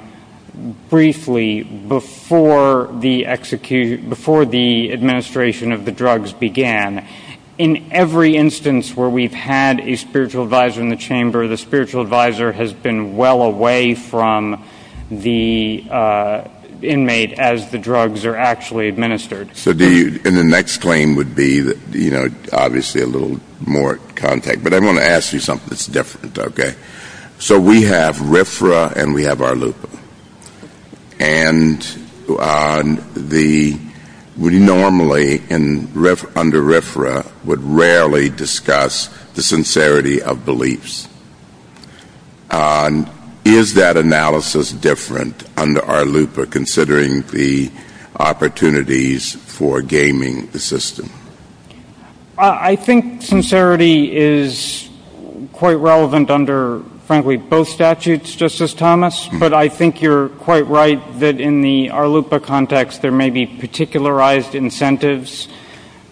briefly, before the administration of the drugs began. In every instance where we've had a spiritual advisor in the chamber, the spiritual advisor has been well away from the inmate as the drugs are actually administered. And the next claim would be obviously a little more contact, but I want to ask you something that's different, okay? So we have RFRA and we have RLUPA, and we normally under RFRA would rarely discuss the sincerity of beliefs. Is that analysis different under RLUPA considering the opportunities for gaming the system? I think sincerity is quite relevant under, frankly, both statutes, Justice Thomas, but I think you're quite right that in the RLUPA context there may be particularized incentives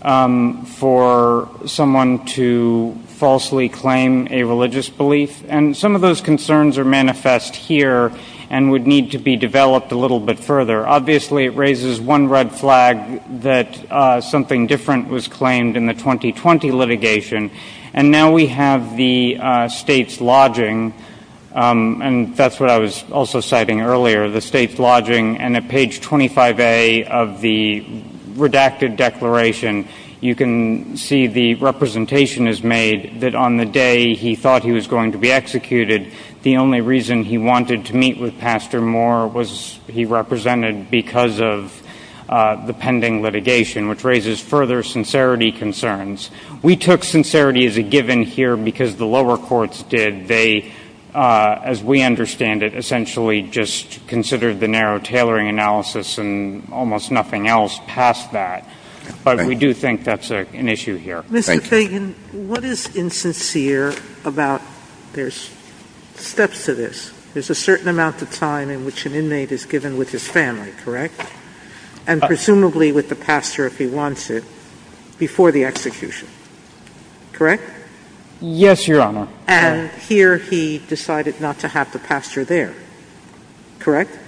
for someone to falsely claim a religious belief, and some of those concerns are manifest here and would need to be developed a little bit further. Obviously it raises one red flag that something different was claimed in the 2020 litigation, and now we have the state's lodging, and that's what I was also citing earlier, the state's lodging, and at page 25A of the redacted declaration, you can see the representation is made that on the day he thought he was going to be executed, the only reason he wanted to meet with Pastor Moore was he represented because of the pending litigation, which raises further sincerity concerns. We took sincerity as a given here because the lower courts did. They, as we understand it, essentially just considered the narrow tailoring analysis and almost nothing else past that, but we do think that's an issue here. Mr. Fagan, what is insincere about there's steps to this? There's a certain amount of time in which an inmate is given with his family, correct, and presumably with the pastor if he wants it before the execution, correct? Yes, Your Honor. And here he decided not to have the pastor there, correct?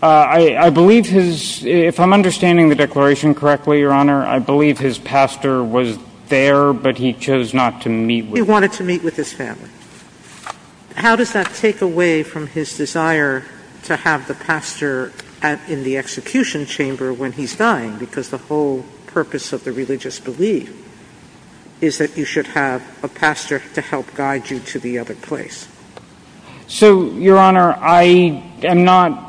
I believe his—if I'm understanding the declaration correctly, Your Honor, I believe his pastor was there, but he chose not to meet with— He wanted to meet with his family. How does that take away from his desire to have the pastor in the execution chamber when he's dying because the whole purpose of the religious belief is that you should have a pastor to help guide you to the other place? So, Your Honor, I am not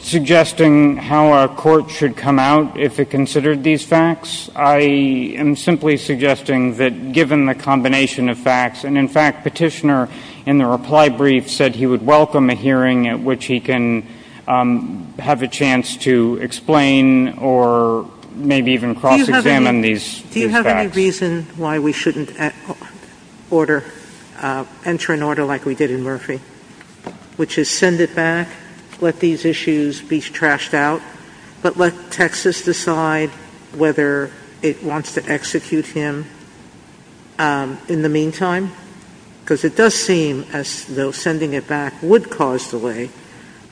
suggesting how a court should come out if it considered these facts. I am simply suggesting that given the combination of facts, and in fact Petitioner in the reply brief said he would welcome a hearing at which he can have a chance to explain or maybe even cross-examine these facts. Do you have any reason why we shouldn't enter an order like we did in Murphy, which is send it back, let these issues be trashed out, but let Texas decide whether it wants to execute him in the meantime? Because it does seem as though sending it back would cause delay,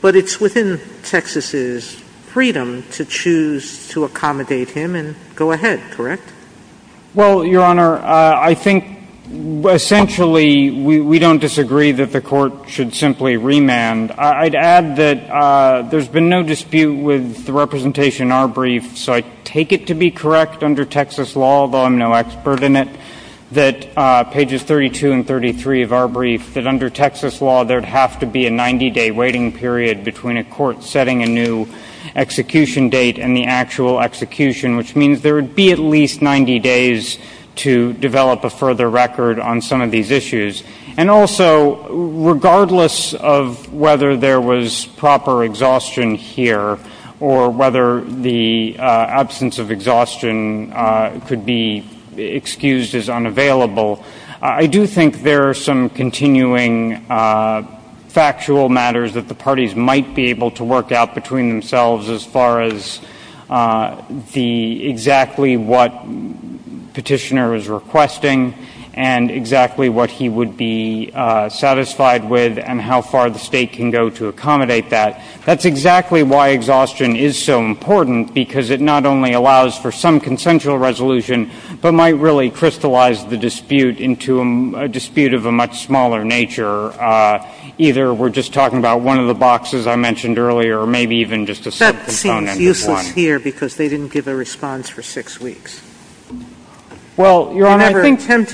but it's within Texas's freedom to choose to accommodate him and go ahead, correct? Well, Your Honor, I think essentially we don't disagree that the court should simply remand. I'd add that there's been no dispute with the representation in our brief, so I take it to be correct under Texas law, although I'm no expert in it, that pages 32 and 33 of our brief, that under Texas law, there'd have to be a 90-day waiting period between a court setting a new execution date and the actual execution, which means there would be at least 90 days to develop a further record on some of these issues. And also, regardless of whether there was proper exhaustion here or whether the absence of exhaustion could be excused as unavailable, I do think there are some continuing factual matters that the parties might be able to work out between themselves as far as exactly what petitioner is requesting and exactly what he would be satisfied with and how far the state can go to accommodate that. That's exactly why exhaustion is so important, because it not only allows for some consensual resolution but might really crystallize the dispute into a dispute of a much smaller nature. Either we're just talking about one of the boxes I mentioned earlier, or maybe even just a simple component of one. That seems useless here because they didn't give a response for six weeks. Well, Your Honor, I think that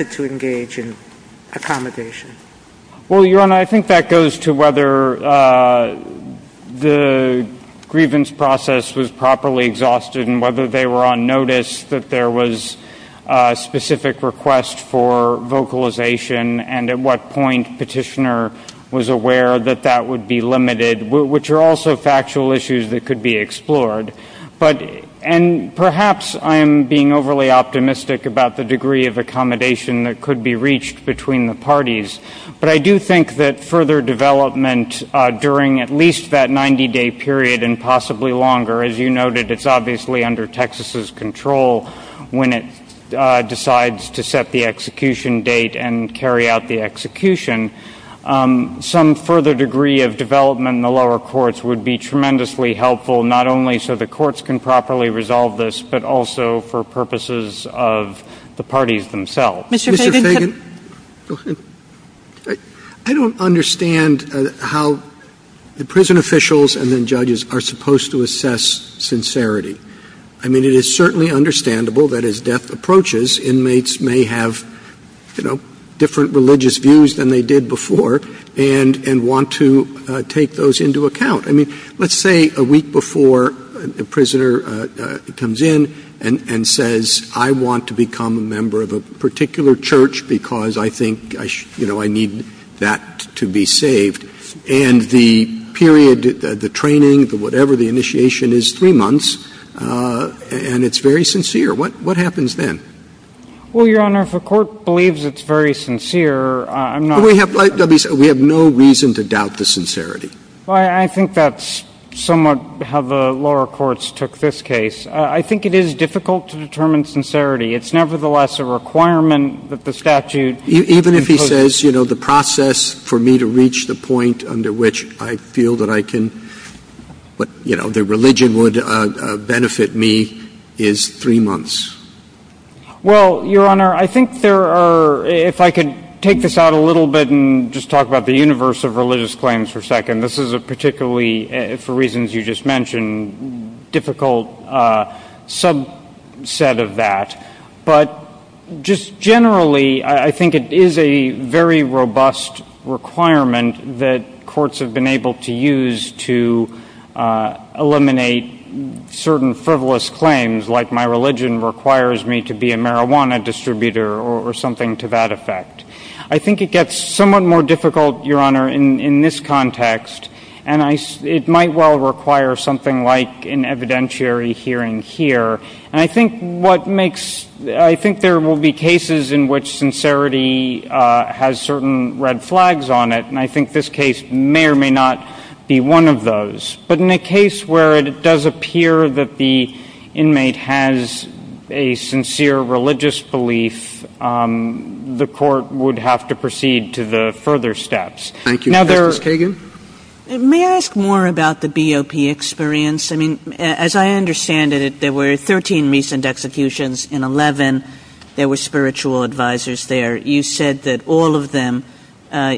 goes to whether the grievance process was properly exhausted and whether they were on notice that there was a specific request for vocalization and at what point petitioner was aware that that would be limited, which are also factual issues that could be explored. And perhaps I am being overly optimistic about the degree of accommodation that could be reached between the parties, but I do think that further development during at least that 90-day period and possibly longer, as you noted, it's obviously under Texas' control when it decides to set the execution date and carry out the execution. Some further degree of development in the lower courts would be tremendously helpful, not only so the courts can properly resolve this, but also for purposes of the parties themselves. Mr. Fagan? I don't understand how the prison officials and then judges are supposed to assess sincerity. I mean, it is certainly understandable that as death approaches, inmates may have different religious views than they did before and want to take those into account. I mean, let's say a week before a prisoner comes in and says, I want to become a member of a particular church because I think I need that to be saved. And the period, the training, whatever the initiation is, three months, and it's very sincere. What happens then? Well, Your Honor, if the court believes it's very sincere, I'm not sure. We have no reason to doubt the sincerity. I think that's somewhat how the lower courts took this case. I think it is difficult to determine sincerity. It's nevertheless a requirement that the statute include. Even if he says, you know, the process for me to reach the point under which I feel that I can, you know, the religion would benefit me is three months. Well, Your Honor, I think there are, if I could take this out a little bit and just talk about the universe of religious claims for a second, this is a particularly, for reasons you just mentioned, difficult subset of that. But just generally, I think it is a very robust requirement that courts have been able to use to eliminate certain frivolous claims like my religion requires me to be a marijuana distributor or something to that effect. I think it gets somewhat more difficult, Your Honor, in this context, and it might well require something like an evidentiary hearing here. And I think what makes, I think there will be cases in which sincerity has certain red flags on it, and I think this case may or may not be one of those. But in a case where it does appear that the inmate has a sincere religious belief, the court would have to proceed to the further steps. Thank you, Justice Kagan. May I ask more about the BOP experience? I mean, as I understand it, there were 13 recent executions. In 11, there were spiritual advisors there. You said that all of them,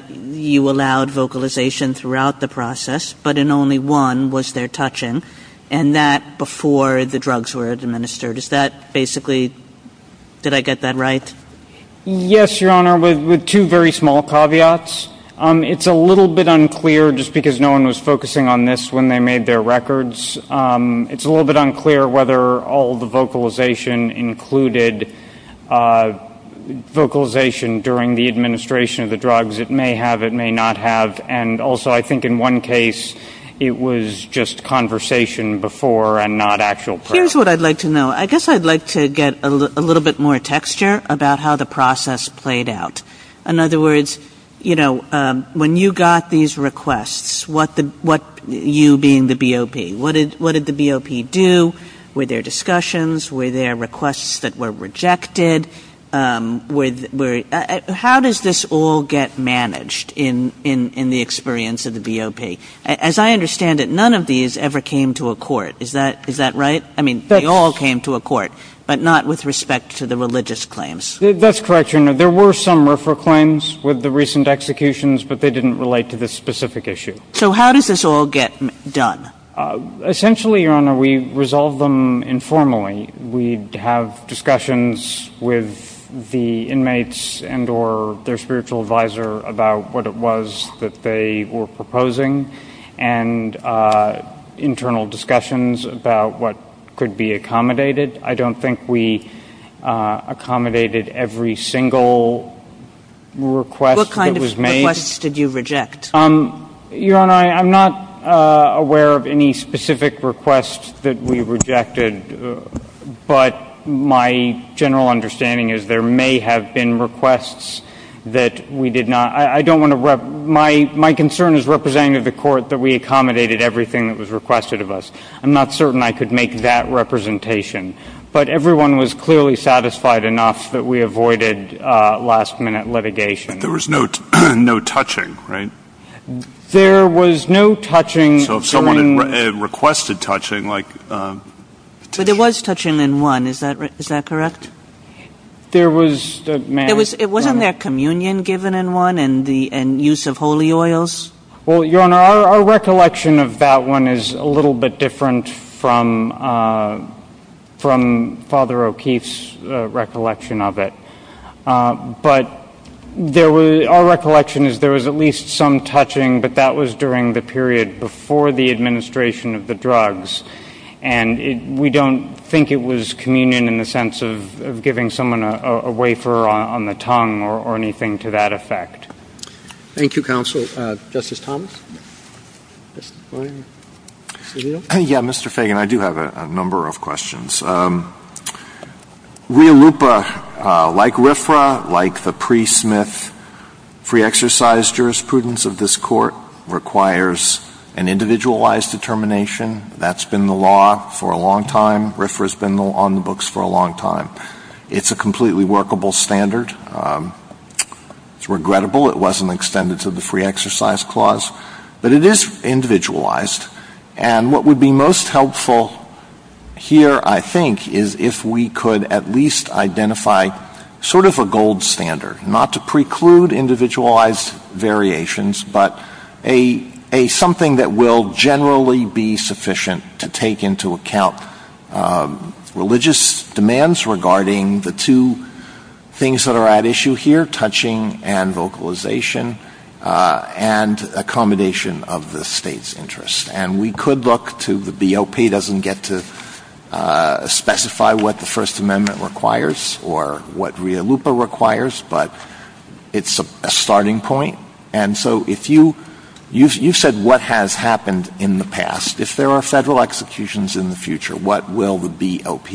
you allowed vocalization throughout the process, but in only one was there touching, and that before the drugs were administered. Is that basically, did I get that right? Yes, Your Honor, with two very small caveats. It's a little bit unclear, just because no one was focusing on this when they made their records. It's a little bit unclear whether all the vocalization included vocalization during the administration of the drugs. It may have, it may not have. And also, I think in one case, it was just conversation before and not actual practice. Here's what I'd like to know. I guess I'd like to get a little bit more texture about how the process played out. In other words, you know, when you got these requests, you being the BOP, what did the BOP do? Were there discussions? Were there requests that were rejected? How does this all get managed in the experience of the BOP? As I understand it, none of these ever came to a court. Is that right? I mean, they all came to a court, but not with respect to the religious claims. That's correct, Your Honor. There were some refer claims with the recent executions, but they didn't relate to this specific issue. So how does this all get done? Essentially, Your Honor, we resolve them informally. We'd have discussions with the inmates and or their spiritual advisor about what it was that they were proposing and internal discussions about what could be accommodated. I don't think we accommodated every single request that was made. What kind of requests did you reject? Your Honor, I'm not aware of any specific requests that we rejected, but my general understanding is there may have been requests that we did not. My concern is representing the court that we accommodated everything that was requested of us. I'm not certain I could make that representation, but everyone was clearly satisfied enough that we avoided last-minute litigation. There was no touching, right? There was no touching. So someone had requested touching. But there was touching in one, is that correct? There was. Wasn't there communion given in one and use of holy oils? Well, Your Honor, our recollection of that one is a little bit different from Father O'Keefe's recollection of it. But our recollection is there was at least some touching, but that was during the period before the administration of the drugs. And we don't think it was communion in the sense of giving someone a wafer on the tongue or anything to that effect. Thank you, Counsel. Justice Thomas? Yes, Mr. Fagan, I do have a number of questions. Rialupa, like RFRA, like the pre-Smith free exercise jurisprudence of this court, requires an individualized determination. That's been the law for a long time. RFRA has been on the books for a long time. It's a completely workable standard. It's regrettable it wasn't extended to the free exercise clause, but it is individualized. And what would be most helpful here, I think, is if we could at least identify sort of a gold standard, not to preclude individualized variations, but something that will generally be sufficient to take into account religious demands regarding the two things that are at issue here, touching and vocalization and accommodation of the state's interest. And we could look to the BOP doesn't get to specify what the First Amendment requires or what Rialupa requires, but it's a starting point. And so you said what has happened in the past. If there are federal executions in the future, what will the BOP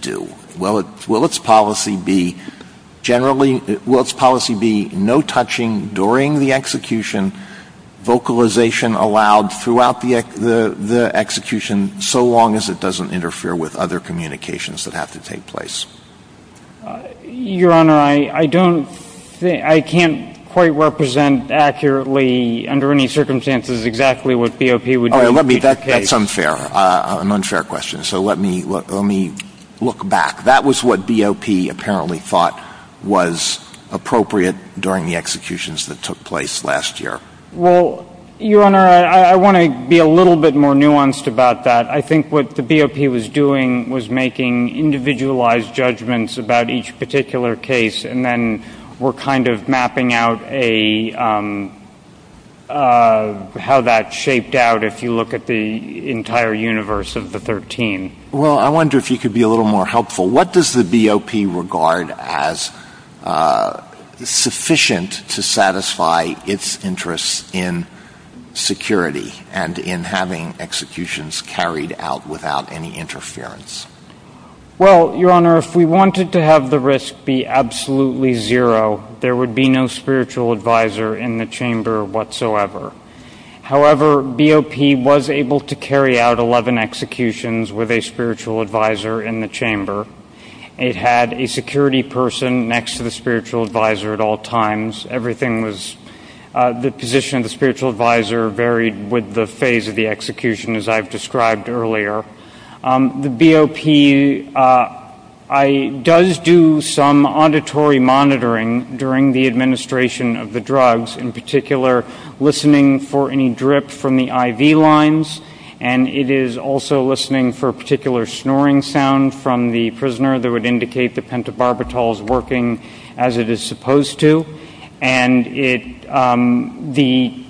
do? Will its policy be no touching during the execution, vocalization allowed throughout the execution, so long as it doesn't interfere with other communications that have to take place? Your Honor, I can't quite represent accurately under any circumstances exactly what BOP would do. That's unfair, an unfair question. So let me look back. That was what BOP apparently thought was appropriate during the executions that took place last year. Well, Your Honor, I want to be a little bit more nuanced about that. I think what the BOP was doing was making individualized judgments about each particular case, and then we're kind of mapping out how that shaped out if you look at the entire universe of the 13. Well, I wonder if you could be a little more helpful. What does the BOP regard as sufficient to satisfy its interest in security and in having executions carried out without any interference? Well, Your Honor, if we wanted to have the risk be absolutely zero, there would be no spiritual advisor in the chamber whatsoever. However, BOP was able to carry out 11 executions with a spiritual advisor in the chamber. It had a security person next to the spiritual advisor at all times. The position of the spiritual advisor varied with the phase of the execution, as I've described earlier. The BOP does do some auditory monitoring during the administration of the drugs, in particular listening for any drip from the IV lines, and it is also listening for a particular snoring sound from the prisoner that would indicate the pentobarbital is working as it is supposed to, and the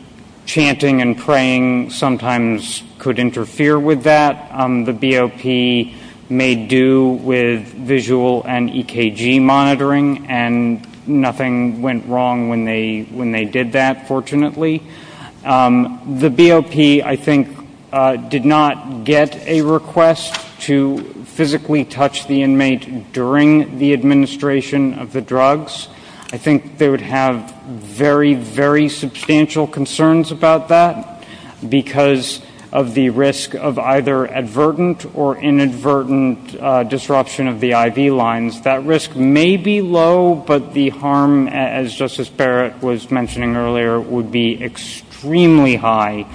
chanting and praying sometimes could interfere with that. The BOP may do with visual and EKG monitoring, and nothing went wrong when they did that, fortunately. The BOP, I think, did not get a request to physically touch the inmate during the administration of the drugs. I think they would have very, very substantial concerns about that because of the risk of either advertent or inadvertent disruption of the IV lines. That risk may be low, but the harm, as Justice Barrett was mentioning earlier, would be extremely high.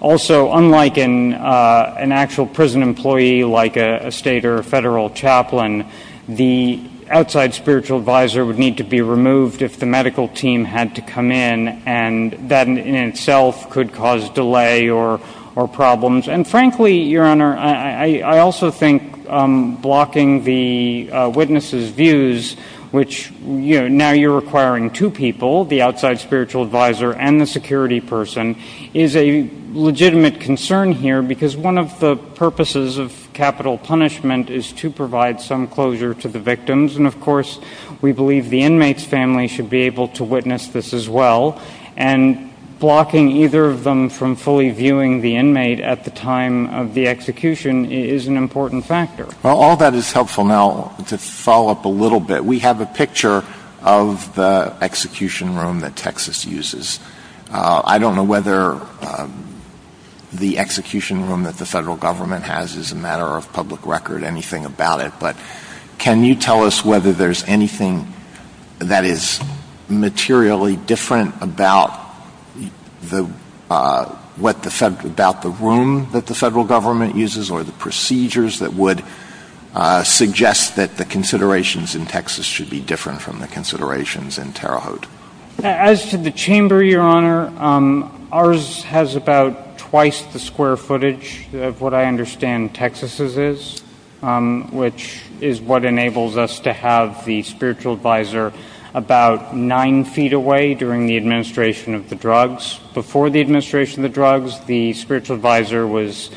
Also, unlike an actual prison employee like a state or federal chaplain, the outside spiritual advisor would need to be removed if the medical team had to come in, and that in itself could cause delay or problems. And frankly, Your Honor, I also think blocking the witness's views, which now you're requiring two people, the outside spiritual advisor and the security person, is a legitimate concern here because one of the purposes of capital punishment is to provide some closure to the victims, and of course we believe the inmate's family should be able to witness this as well. And blocking either of them from fully viewing the inmate at the time of the execution is an important factor. Well, all that is helpful now to follow up a little bit. We have a picture of the execution room that Texas uses. I don't know whether the execution room that the federal government has is a matter of public record or anything about it, but can you tell us whether there's anything that is materially different about the room that the federal government uses or the procedures that would suggest that the considerations in Texas should be different from the considerations in Terre Haute? As to the chamber, Your Honor, ours has about twice the square footage of what I understand Texas's is, which is what enables us to have the spiritual advisor about nine feet away during the administration of the drugs. Before the administration of the drugs, the spiritual advisor was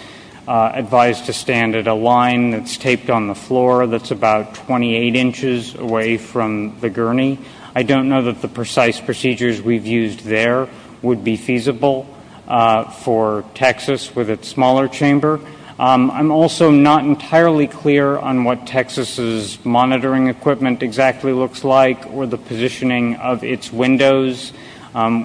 advised to stand at a line that's taped on the floor that's about 28 inches away from the gurney. I don't know that the precise procedures we've used there would be feasible for Texas with its smaller chamber. I'm also not entirely clear on what Texas's monitoring equipment exactly looks like or the positioning of its windows.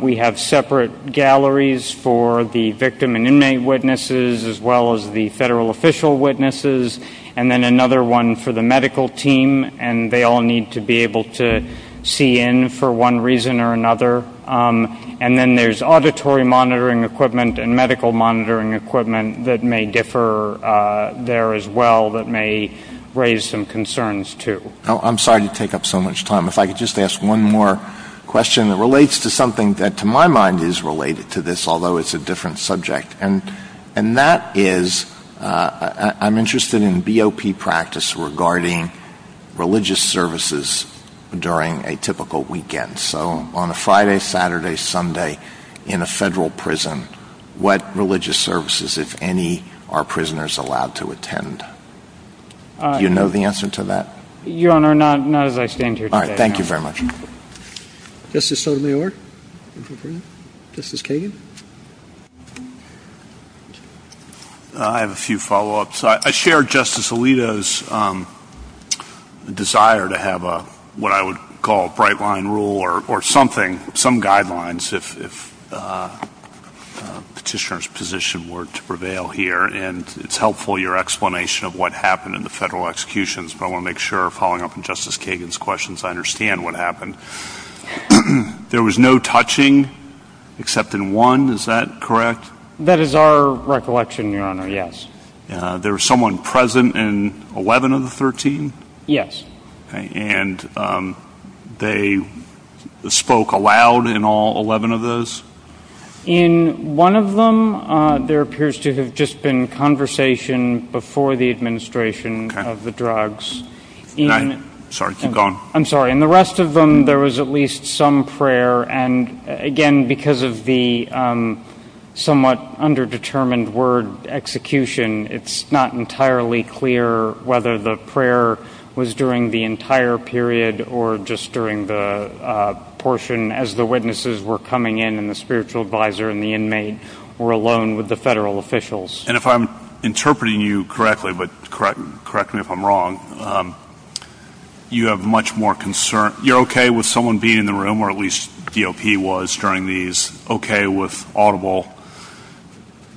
We have separate galleries for the victim and inmate witnesses as well as the federal official witnesses, and then another one for the medical team, and they all need to be able to see in for one reason or another. And then there's auditory monitoring equipment and medical monitoring equipment that may differ there as well that may raise some concerns too. I'm sorry to take up so much time. If I could just ask one more question that relates to something that to my mind is related to this, although it's a different subject, and that is I'm interested in BOP practice regarding religious services during a typical weekend. So on a Friday, Saturday, Sunday in a federal prison, what religious services, if any, are prisoners allowed to attend? Do you know the answer to that? Your Honor, not as I stand here today. Thank you very much. Justice Sotomayor? Justice Kagan? I have a few follow-ups. I share Justice Alito's desire to have what I would call a bright-line rule or something, some guidelines, if Petitioner's position were to prevail here, and it's helpful, your explanation of what happened in the federal executions, but I want to make sure, following up on Justice Kagan's questions, I understand what happened. There was no touching except in one, is that correct? That is our recollection, your Honor, yes. There was someone present in 11 of the 13? Yes. And they spoke aloud in all 11 of those? In one of them, there appears to have just been conversation before the administration of the drugs. I'm sorry, keep going. I'm sorry. In the rest of them, there was at least some prayer, and again, because of the somewhat underdetermined word execution, it's not entirely clear whether the prayer was during the entire period or just during the portion as the witnesses were coming in and the spiritual advisor and the inmate were alone with the federal officials. And if I'm interpreting you correctly, but correct me if I'm wrong, you have much more concern. You're okay with someone being in the room, or at least DOP was during these, okay with audible.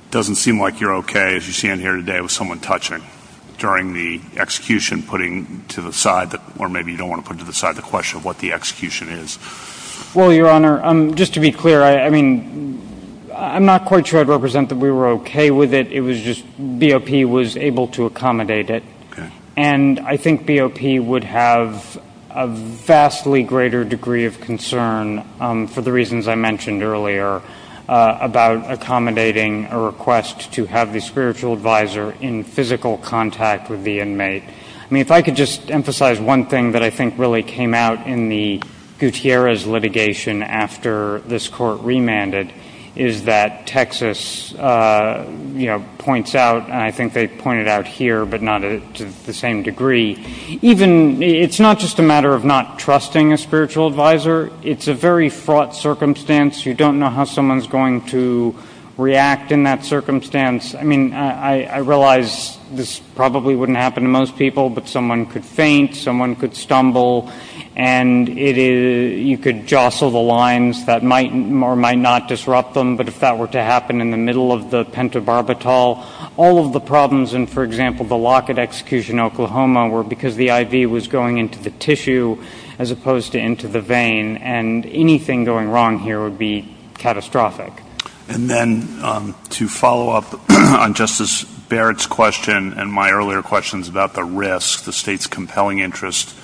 It doesn't seem like you're okay, as you stand here today, with someone touching during the execution, putting to the side, or maybe you don't want to put to the side the question of what the execution is. Well, your Honor, just to be clear, I mean, I'm not quite sure I'd represent that we were okay with it. It was just BOP was able to accommodate it. And I think BOP would have a vastly greater degree of concern for the reasons I mentioned earlier about accommodating a request to have the spiritual advisor in physical contact with the inmate. I mean, if I could just emphasize one thing that I think really came out in the Gutierrez litigation after this court remanded is that Texas points out, and I think they point it out here, but not to the same degree. It's not just a matter of not trusting a spiritual advisor. It's a very fraught circumstance. You don't know how someone's going to react in that circumstance. I mean, I realize this probably wouldn't happen to most people, but someone could faint, someone could stumble, and you could jostle the lines that might or might not disrupt them. But if that were to happen in the middle of the pentobarbital, all of the problems in, for example, the Lockett execution in Oklahoma were because the IV was going into the tissue as opposed to into the vein, and anything going wrong here would be catastrophic. And then to follow up on Justice Barrett's question and my earlier questions about the risk, the state's compelling interest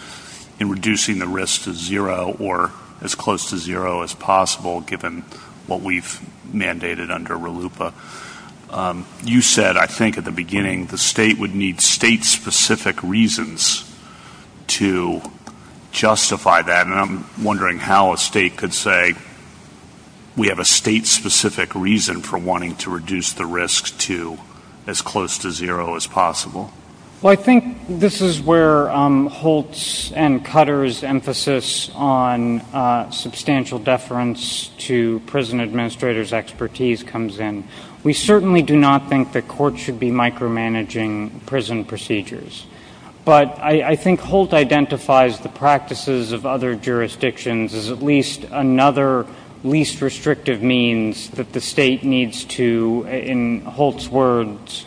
in reducing the risk to zero or as close to zero as possible, given what we've mandated under RLUIPA, you said, I think, at the beginning, the state would need state-specific reasons to justify that, and I'm wondering how a state could say we have a state-specific reason for wanting to reduce the risk to as close to zero as possible. Well, I think this is where Holtz and Cutter's emphasis on substantial deference to prison administrators' expertise comes in. We certainly do not think that courts should be micromanaging prison procedures, but I think Holtz identifies the practices of other jurisdictions as at least another least restrictive means that the state needs to, in Holtz's words,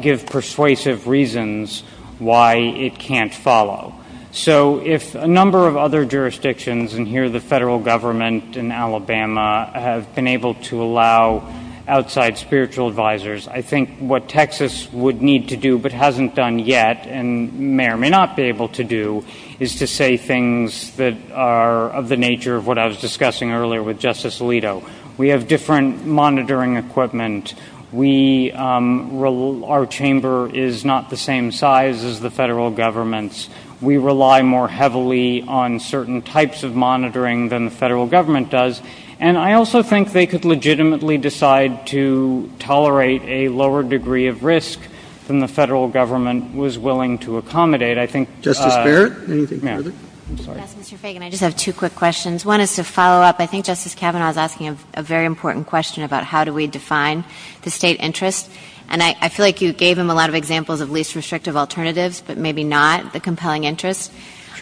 give persuasive reasons why it can't follow. So if a number of other jurisdictions, and here the federal government in Alabama, have been able to allow outside spiritual advisors, I think what Texas would need to do but hasn't done yet and may or may not be able to do is to say things that are of the nature of what I was discussing earlier with Justice Alito. We have different monitoring equipment. Our chamber is not the same size as the federal government's. We rely more heavily on certain types of monitoring than the federal government does, and I also think they could legitimately decide to tolerate a lower degree of risk than the federal government was willing to accommodate. I think — Justice Barrett? Yes, Mr. Fagan, I just have two quick questions. One is to follow up. I think Justice Kavanaugh is asking a very important question about how do we define the state interest, and I feel like you gave him a lot of examples of least restrictive alternatives but maybe not the compelling interest.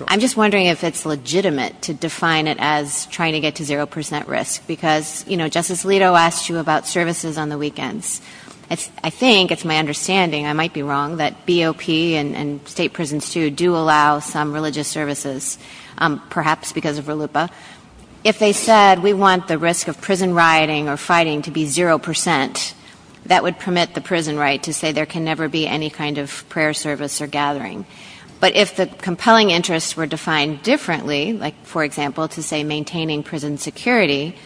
I'm just wondering if it's legitimate to define it as trying to get to zero percent risk because, you know, Justice Alito asked you about services on the weekends. I think, it's my understanding, I might be wrong, that BOP and state prisons too do allow some religious services, perhaps because of RLUIPA. If they said we want the risk of prison rioting or fighting to be zero percent, that would permit the prison right to say there can never be any kind of prayer service or gathering. But if the compelling interests were defined differently, like, for example, to say maintaining prison security,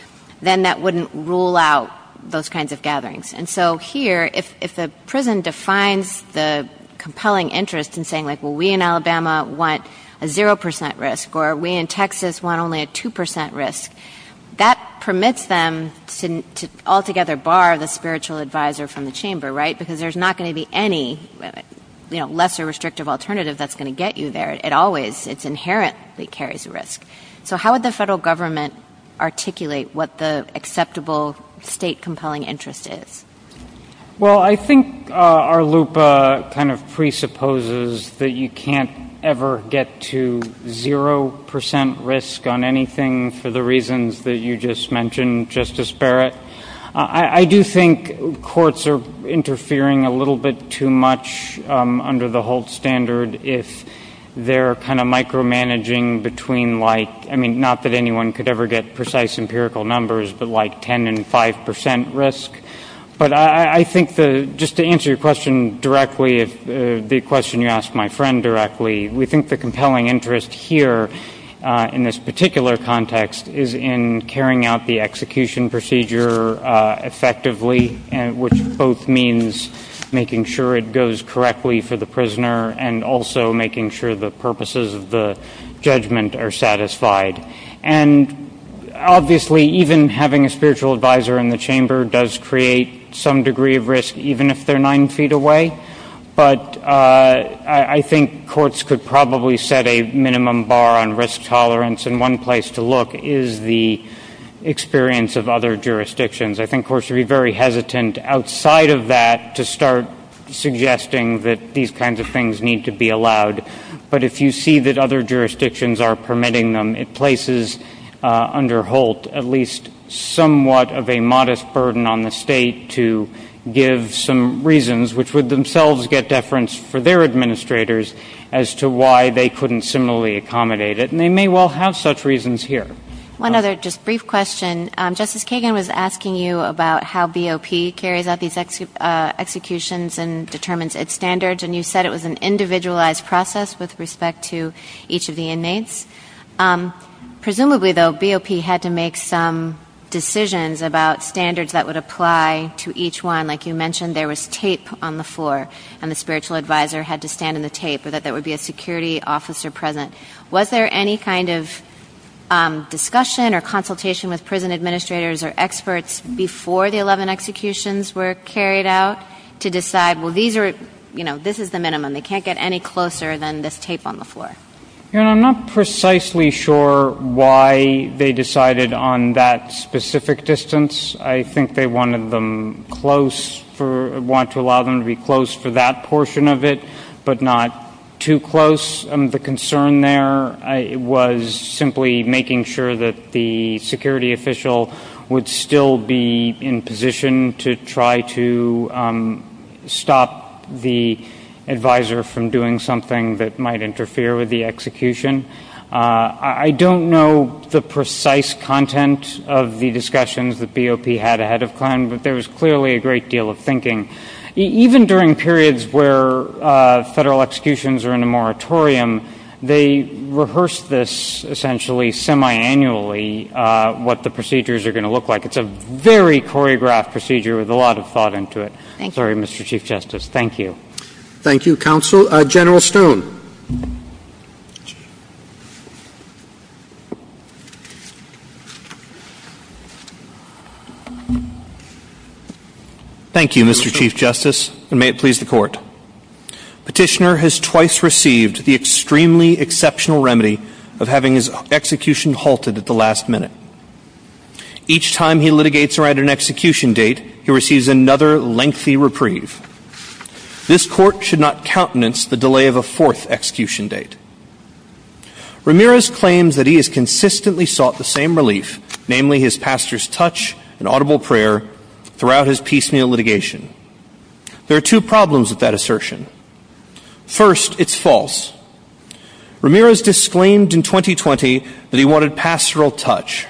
then that wouldn't rule out those kinds of gatherings. And so here, if a prison defines the compelling interest in saying, like, well, we in Alabama want a zero percent risk or we in Texas want only a two percent risk, that permits them to altogether bar the spiritual advisor from the chamber, right? Because there's not going to be any, you know, lesser restrictive alternative that's going to get you there. It always, it's inherent that it carries a risk. So how would the federal government articulate what the acceptable state compelling interest is? Well, I think RLUIPA kind of presupposes that you can't ever get to zero percent risk on anything for the reasons that you just mentioned, Justice Barrett. I do think courts are interfering a little bit too much under the Holtz standard if they're kind of micromanaging between, like, I mean, not that anyone could ever get precise empirical numbers, but, like, ten and five percent risk. But I think just to answer your question directly, it would be a question you ask my friend directly, we think the compelling interest here in this particular context is in carrying out the execution procedure effectively, which both means making sure it goes correctly for the prisoner and also making sure the purposes of the judgment are satisfied. And obviously, even having a spiritual advisor in the chamber does create some degree of risk, even if they're nine feet away. But I think courts could probably set a minimum bar on risk tolerance, and one place to look is the experience of other jurisdictions. I think courts should be very hesitant outside of that to start suggesting that these kinds of things need to be allowed. But if you see that other jurisdictions are permitting them, it places under Holtz at least somewhat of a modest burden on the state to give some reasons, which would themselves get deference for their administrators, as to why they couldn't similarly accommodate it, and they may well have such reasons here. One other just brief question. Justice Kagan was asking you about how BOP carries out these executions and determines its standards, and you said it was an individualized process with respect to each of the inmates. Presumably, though, BOP had to make some decisions about standards that would apply to each one. Like you mentioned, there was tape on the floor, and the spiritual advisor had to stand in the tape so that there would be a security officer present. Was there any kind of discussion or consultation with prison administrators or experts before the 11 executions were carried out to decide, well, this is the minimum, they can't get any closer than this tape on the floor? I'm not precisely sure why they decided on that specific distance. I think they wanted to allow them to be close for that portion of it, but not too close. The concern there was simply making sure that the security official would still be in position to try to stop the advisor from doing something that might interfere with the execution. I don't know the precise content of the discussions that BOP had ahead of time, but there was clearly a great deal of thinking. Even during periods where federal executions are in a moratorium, they rehearse this essentially semi-annually, what the procedures are going to look like. It's a very choreographed procedure with a lot of thought into it. Sorry, Mr. Chief Justice. Thank you. Thank you, Counsel. General Stone. Thank you, Mr. Chief Justice, and may it please the Court. Petitioner has twice received the extremely exceptional remedy of having his execution halted at the last minute. Each time he litigates around an execution date, he receives another lengthy reprieve. This Court should not countenance the delay of a fourth execution date. Ramirez claims that he has consistently sought the same relief, namely his pastor's touch and audible prayer, throughout his piecemeal litigation. There are two problems with that assertion. First, it's false. Ramirez disclaimed in 2020 that he wanted pastoral touch,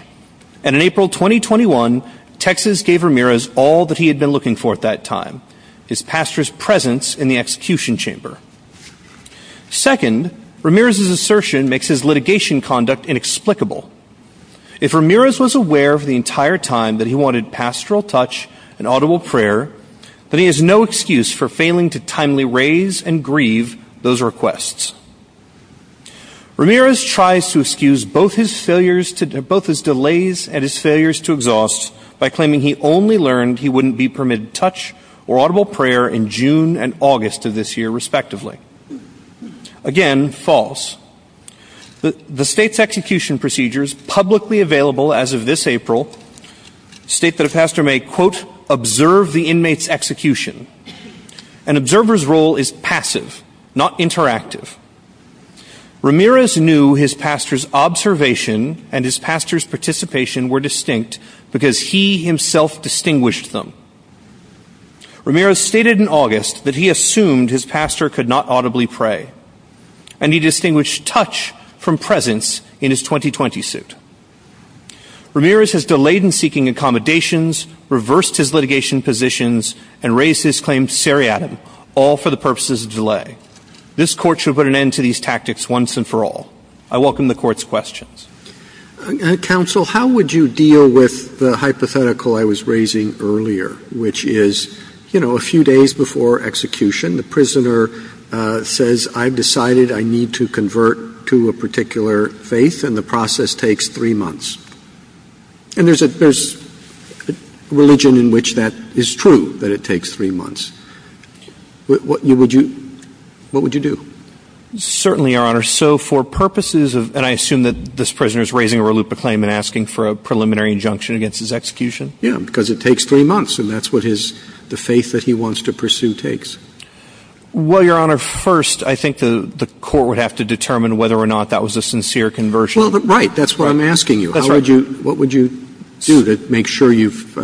and in April 2021, Texas gave Ramirez all that he had been looking for at that time, his pastor's presence in the execution chamber. Second, Ramirez's assertion makes his litigation conduct inexplicable. If Ramirez was aware for the entire time that he wanted pastoral touch and audible prayer, then he has no excuse for failing to timely raise and grieve those requests. Ramirez tries to excuse both his delays and his failures to exhaust by claiming he only learned he wouldn't be permitted touch or audible prayer in June and August of this year, respectively. Again, false. The state's execution procedures, publicly available as of this April, state that a pastor may, quote, observe the inmate's execution. An observer's role is passive, not interactive. Ramirez knew his pastor's observation and his pastor's participation were distinct because he himself distinguished them. Ramirez stated in August that he assumed his pastor could not audibly pray, and he distinguished touch from presence in his 2020 suit. Ramirez has delayed in seeking accommodations, reversed his litigation positions, and raised his claim to seriatim, all for the purposes of delay. This court should put an end to these tactics once and for all. I welcome the court's questions. Counsel, how would you deal with the hypothetical I was raising earlier, which is, you know, a few days before execution, the prisoner says, I've decided I need to convert to a particular faith, and the process takes three months. And there's a religion in which that is true, that it takes three months. What would you do? Certainly, Your Honor. So for purposes of, and I assume that this prisoner is raising a reluctant claim and asking for a preliminary injunction against his execution? Yeah, because it takes three months, and that's what his, the faith that he wants to pursue takes. Well, Your Honor, first I think the court would have to determine whether or not that was a sincere conversion. Well, right, that's what I'm asking you. That's right. What would you do to make sure you've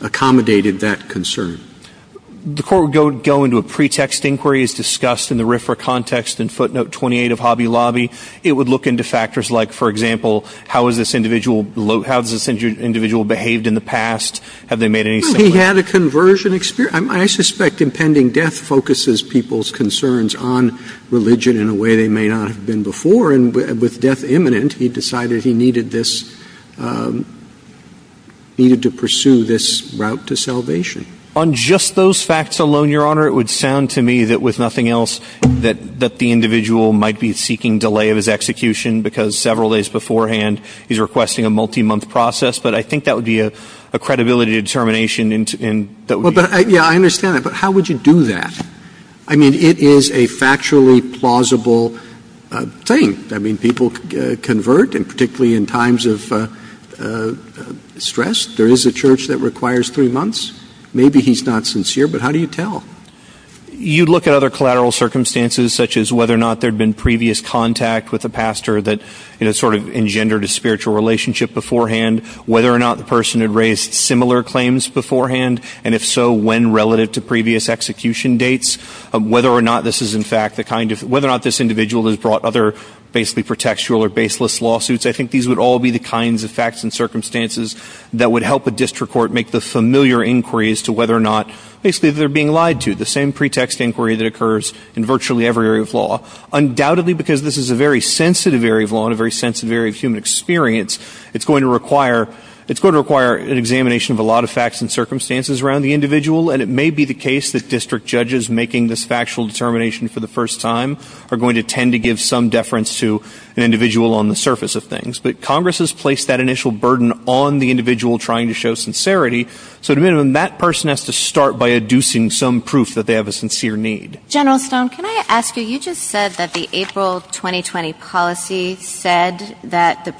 accommodated that concern? The court would go into a pretext inquiry as discussed in the RFRA context in footnote 28 of Hobby Lobby. It would look into factors like, for example, how has this individual behaved in the past? Have they made any changes? He had a conversion experience. I suspect impending death focuses people's concerns on religion in a way they may not have been before, and with death imminent, he decided he needed this, needed to pursue this route to salvation. On just those facts alone, Your Honor, it would sound to me that with nothing else, that the individual might be seeking delay of his execution because several days beforehand, he's requesting a multi-month process, but I think that would be a credibility determination. Yeah, I understand that, but how would you do that? I mean, it is a factually plausible thing. I mean, people convert, and particularly in times of stress, there is a church that requires three months. Maybe he's not sincere, but how do you tell? You'd look at other collateral circumstances such as whether or not there had been previous contact with a pastor that sort of engendered a spiritual relationship beforehand, whether or not the person had raised similar claims beforehand, and if so, when relative to previous execution dates, whether or not this individual has brought other basically pretextual or baseless lawsuits. I think these would all be the kinds of facts and circumstances that would help a district court make the familiar inquiries to whether or not basically they're being lied to, the same pretext inquiry that occurs in virtually every area of law. Undoubtedly, because this is a very sensitive area of law and a very sensitive area of human experience, it's going to require an examination of a lot of facts and circumstances around the individual, and it may be the case that district judges making this factual determination for the first time are going to tend to give some deference to an individual on the surface of things. But Congress has placed that initial burden on the individual trying to show sincerity, so at a minimum, that person has to start by adducing some proof that they have a sincere need. General Stone, can I ask you, you just said that the April 2020 policy said that the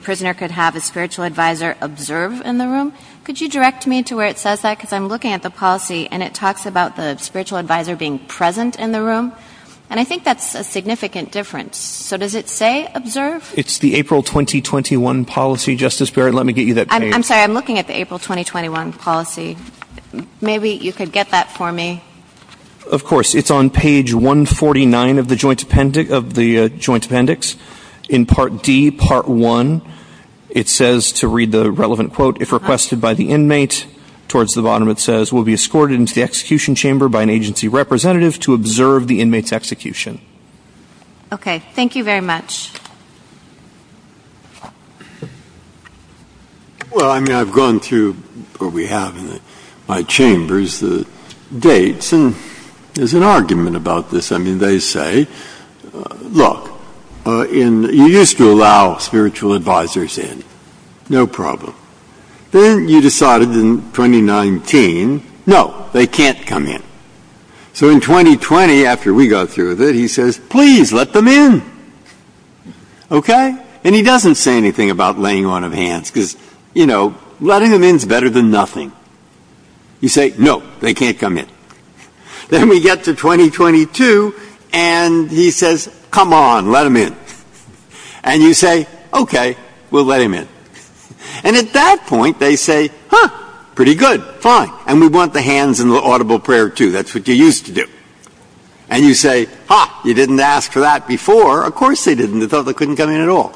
prisoner could have a spiritual advisor observe in the room. Could you direct me to where it says that? Because I'm looking at the policy, and it talks about the spiritual advisor being present in the room, and I think that's a significant difference. So does it say observe? It's the April 2021 policy, Justice Barrett. Let me get you that page. I'm sorry, I'm looking at the April 2021 policy. Maybe you could get that for me. Of course. It's on page 149 of the Joint Appendix. In Part D, Part 1, it says, to read the relevant quote, if requested by the inmate, towards the bottom it says, will be escorted into the execution chamber by an agency representative to observe the inmate's execution. Okay. Thank you very much. Well, I mean, I've gone through what we have in my chambers, the dates, and there's an argument about this. I mean, they say, look, you used to allow spiritual advisors in, no problem. Then you decided in 2019, no, they can't come in. So in 2020, after we got through with it, he says, please let them in. Okay. And he doesn't say anything about laying on of hands because, you know, letting them in is better than nothing. You say, no, they can't come in. Then we get to 2022, and he says, come on, let them in. And you say, okay, we'll let them in. And at that point, they say, huh, pretty good, fine. And we want the hands in the audible prayer too. That's what you used to do. And you say, ha, you didn't ask for that before. Of course they didn't. They thought they couldn't come in at all.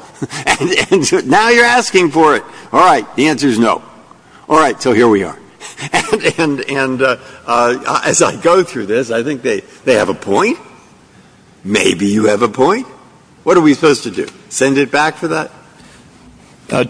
Now you're asking for it. All right. The answer is no. All right. So here we are. And as I go through this, I think they have a point. Maybe you have a point. What are we supposed to do? Send it back for that?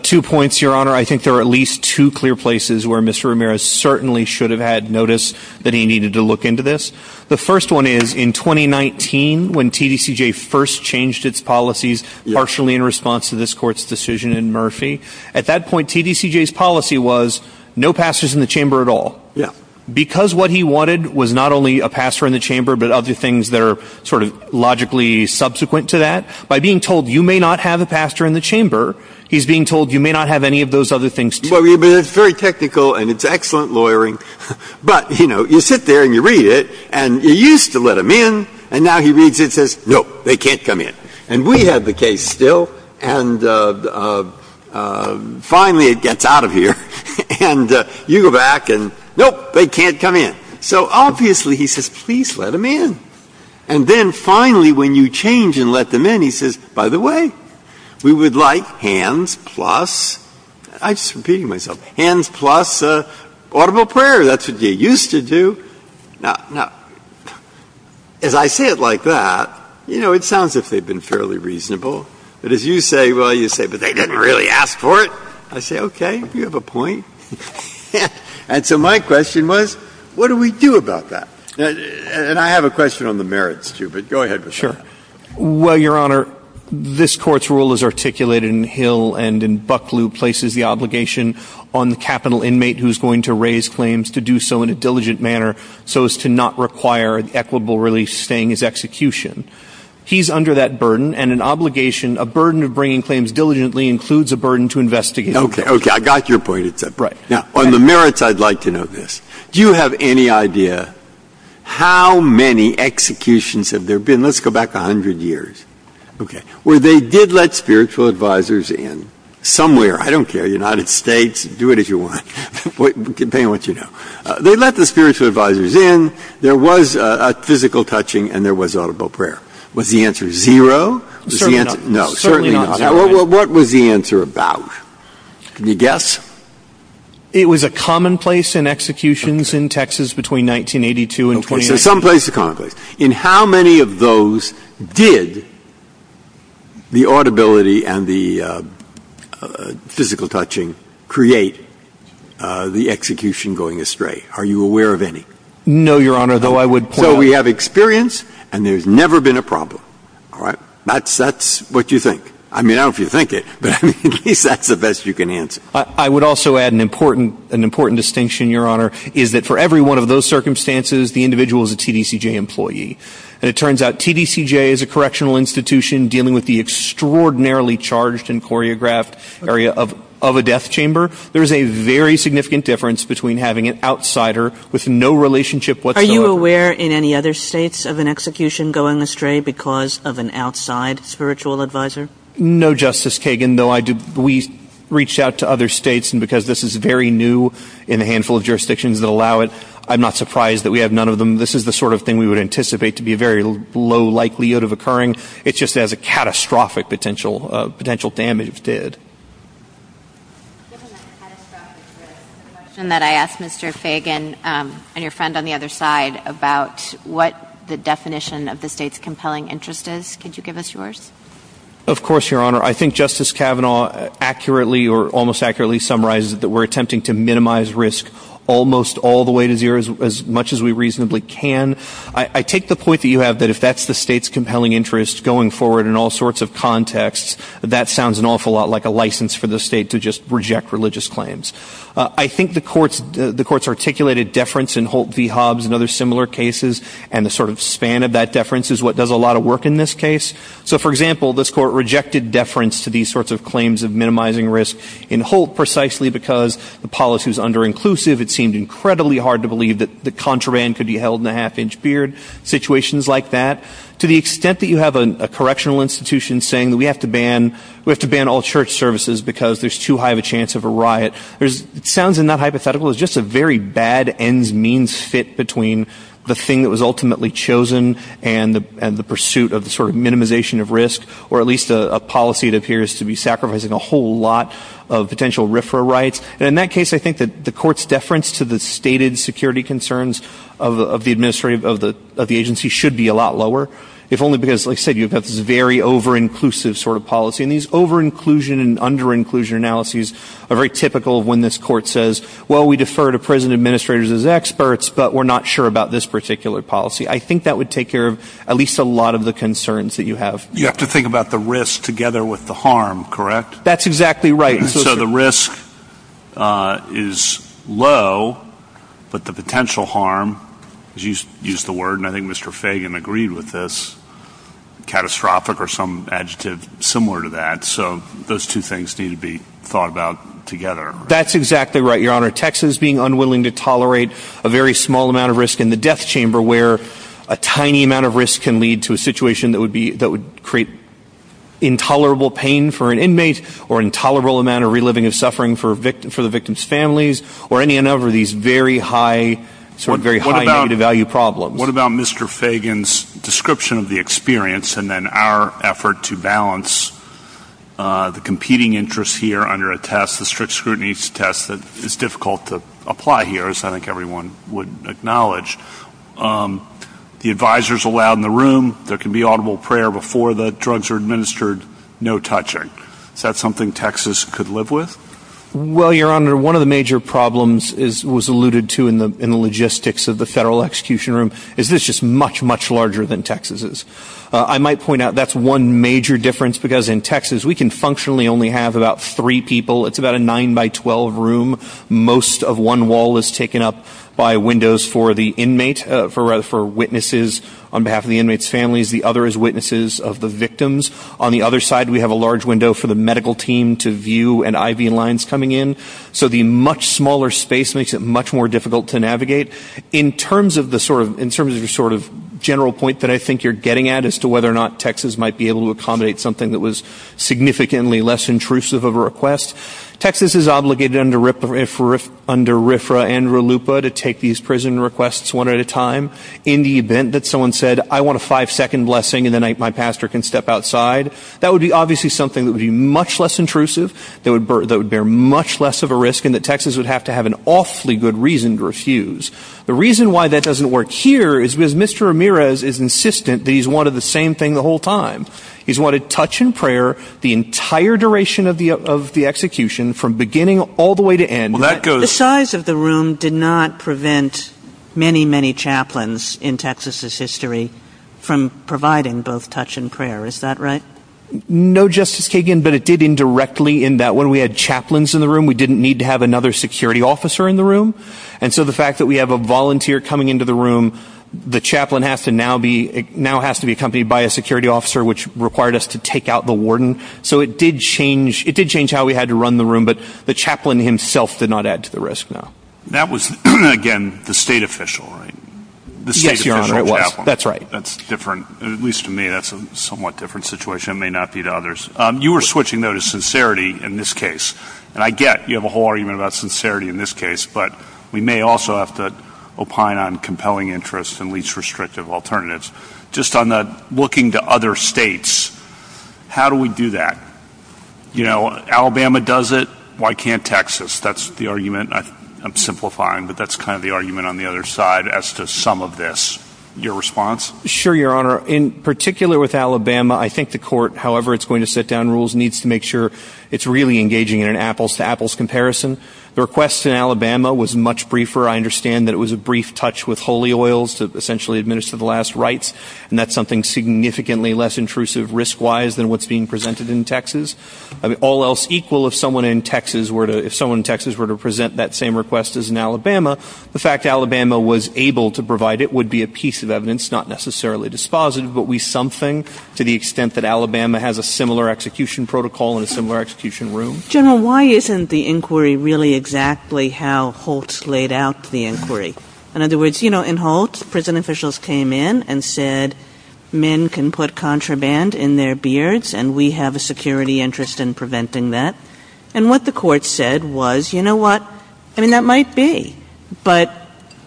Two points, Your Honor. I think there are at least two clear places where Mr. Ramirez certainly should have had notice that he needed to look into this. The first one is in 2019, when TDCJ first changed its policies, partially in response to this court's decision in Murphy. At that point, TDCJ's policy was no pastors in the chamber at all. Because what he wanted was not only a pastor in the chamber, but other things that are sort of logically subsequent to that. By being told you may not have a pastor in the chamber, he's being told you may not have any of those other things. It's very technical, and it's excellent lawyering. But, you know, you sit there and you read it, and you used to let them in, and now he reads it and says, nope, they can't come in. And we have the case still, and finally it gets out of here. And you go back and, nope, they can't come in. So obviously he says, please let them in. And then finally when you change and let them in, he says, by the way, we would like hands plus, I'm just repeating myself, hands plus audible prayer. That's what you used to do. Now, as I say it like that, you know, it sounds as if they've been fairly reasonable. But as you say, well, you say, but they didn't really ask for it. I say, okay, you have a point. And so my question was, what do we do about that? And I have a question on the merits too, but go ahead. Sure. Well, Your Honor, this court's rule is articulated in Hill and in Bucklew, places the obligation on the capital inmate who's going to raise claims to do so in a diligent manner so as to not require an equitable release staying his execution. He's under that burden, and an obligation, a burden of bringing claims diligently, includes a burden to investigate. Okay, okay, I got your point. Now, on the merits, I'd like to know this. Do you have any idea how many executions have there been? Let's go back 100 years. Okay. Where they did let spiritual advisors in somewhere. I don't care, United States, do it as you want. They let the spiritual advisors in. There was a physical touching, and there was audible prayer. Was the answer zero? Certainly not. No, certainly not. What was the answer about? Can you guess? It was a commonplace in executions in Texas between 1982 and 2008. From some place to commonplace. In how many of those did the audibility and the physical touching create the execution going astray? Are you aware of any? No, Your Honor, though I would point out. So we have experience, and there's never been a problem. All right. That's what you think. I mean, I don't know if you think it, but at least that's the best you can answer. I would also add an important distinction, Your Honor, is that for every one of those circumstances, the individual is a TDCJ employee. And it turns out TDCJ is a correctional institution dealing with the extraordinarily charged and choreographed area of a death chamber. There's a very significant difference between having an outsider with no relationship whatsoever. Are you aware in any other states of an execution going astray because of an outside spiritual advisor? No, Justice Kagan, though we reached out to other states, and because this is very new in a handful of jurisdictions that allow it, I'm not surprised that we have none of them. This is the sort of thing we would anticipate to be a very low likelihood of occurring. It's just that it has a catastrophic potential damage to it. I asked Mr. Fagan and your friend on the other side about what the definition of the state's compelling interest is. Could you give us yours? Of course, Your Honor. I think Justice Kavanaugh accurately or almost accurately summarizes that we're attempting to minimize risk almost all the way to zero as much as we reasonably can. I take the point that you have that if that's the state's compelling interest going forward in all sorts of contexts, that sounds an awful lot like a license for the state to just reject religious claims. I think the court's articulated deference in Holt v. Hobbs and other similar cases, and the sort of span of that deference is what does a lot of work in this case. So, for example, this court rejected deference to these sorts of claims of minimizing risk in Holt precisely because the policy is under-inclusive. It seemed incredibly hard to believe that contraband could be held in a half-inch beard, situations like that. To the extent that you have a correctional institution saying that we have to ban all church services because there's too high of a chance of a riot, it sounds not hypothetical, it's just a very bad ends-means fit between the thing that was ultimately chosen and the pursuit of the sort of minimization of risk, or at least a policy that appears to be sacrificing a whole lot of potential RFRA rights. And in that case, I think that the court's deference to the stated security concerns of the agency should be a lot lower, if only because, like I said, you've got this very over-inclusive sort of policy. And these over-inclusion and under-inclusion analyses are very typical of when this court says, well, we defer to prison administrators as experts, but we're not sure about this particular policy. I think that would take care of at least a lot of the concerns that you have. You have to think about the risk together with the harm, correct? That's exactly right. So the risk is low, but the potential harm, as you used the word, and I think Mr. Fagan agreed with this, catastrophic or some adjective similar to that, so those two things need to be thought about together. That's exactly right, Your Honor. Texans being unwilling to tolerate a very small amount of risk in the death chamber, where a tiny amount of risk can lead to a situation that would create intolerable pain for an inmate or intolerable amount of reliving of suffering for the victim's families or any number of these very high negative value problems. What about Mr. Fagan's description of the experience and then our effort to balance the competing interests here under a test, the strict scrutiny test that is difficult to apply here, as I think everyone would acknowledge. The advisor is allowed in the room. There can be audible prayer before the drugs are administered. No touching. Is that something Texas could live with? Well, Your Honor, one of the major problems was alluded to in the logistics of the federal execution room is this is just much, much larger than Texas is. I might point out that's one major difference because in Texas we can functionally only have about three people. It's about a nine-by-twelve room. Most of one wall is taken up by windows for the inmate, for witnesses on behalf of the inmate's families. The other is witnesses of the victims. On the other side we have a large window for the medical team to view and IV lines coming in. So the much smaller space makes it much more difficult to navigate. In terms of the sort of general point that I think you're getting at as to whether or not Texas might be able to accommodate something that was significantly less intrusive of a request, Texas is obligated under RFRA and RLUPA to take these prison requests one at a time. In the event that someone said, I want a five-second blessing and then my pastor can step outside, that would be obviously something that would be much less intrusive, that would bear much less of a risk, and that Texas would have to have an awfully good reason to refuse. The reason why that doesn't work here is because Mr. Ramirez is insistent that he's wanted the same thing the whole time. He's wanted touch and prayer the entire duration of the execution from beginning all the way to end. The size of the room did not prevent many, many chaplains in Texas' history from providing both touch and prayer, is that right? No, Justice Kagan, but it did indirectly in that when we had chaplains in the room, we didn't need to have another security officer in the room. And so the fact that we have a volunteer coming into the room, the chaplain now has to be accompanied by a security officer, which required us to take out the warden. So it did change how we had to run the room, but the chaplain himself did not add to the risk. That was, again, the state official, right? Yes, Your Honor, it was. That's right. That's different, at least to me, that's a somewhat different situation. It may not be to others. You were switching, though, to sincerity in this case, and I get you have a whole argument about sincerity in this case, but we may also have to opine on compelling interests and least restrictive alternatives. Just on the looking to other states, how do we do that? You know, Alabama does it, why can't Texas? That's the argument, and I'm simplifying, but that's kind of the argument on the other side as to some of this. Your response? Sure, Your Honor. In particular with Alabama, I think the court, however it's going to set down rules, needs to make sure it's really engaging in an apples-to-apples comparison. The request in Alabama was much briefer. I understand that it was a brief touch with holy oils that essentially administered the last rites, and that's something significantly less intrusive risk-wise than what's being presented in Texas. All else equal, if someone in Texas were to present that same request as in Alabama, the fact Alabama was able to provide it would be a piece of evidence, not necessarily dispositive, but we something to the extent that Alabama has a similar execution protocol in a similar execution room. General, why isn't the inquiry really exactly how Holtz laid out the inquiry? In other words, you know, in Holtz, prison officials came in and said, men can put contraband in their beards, and we have a security interest in preventing that. And what the court said was, you know what, I mean, that might be, but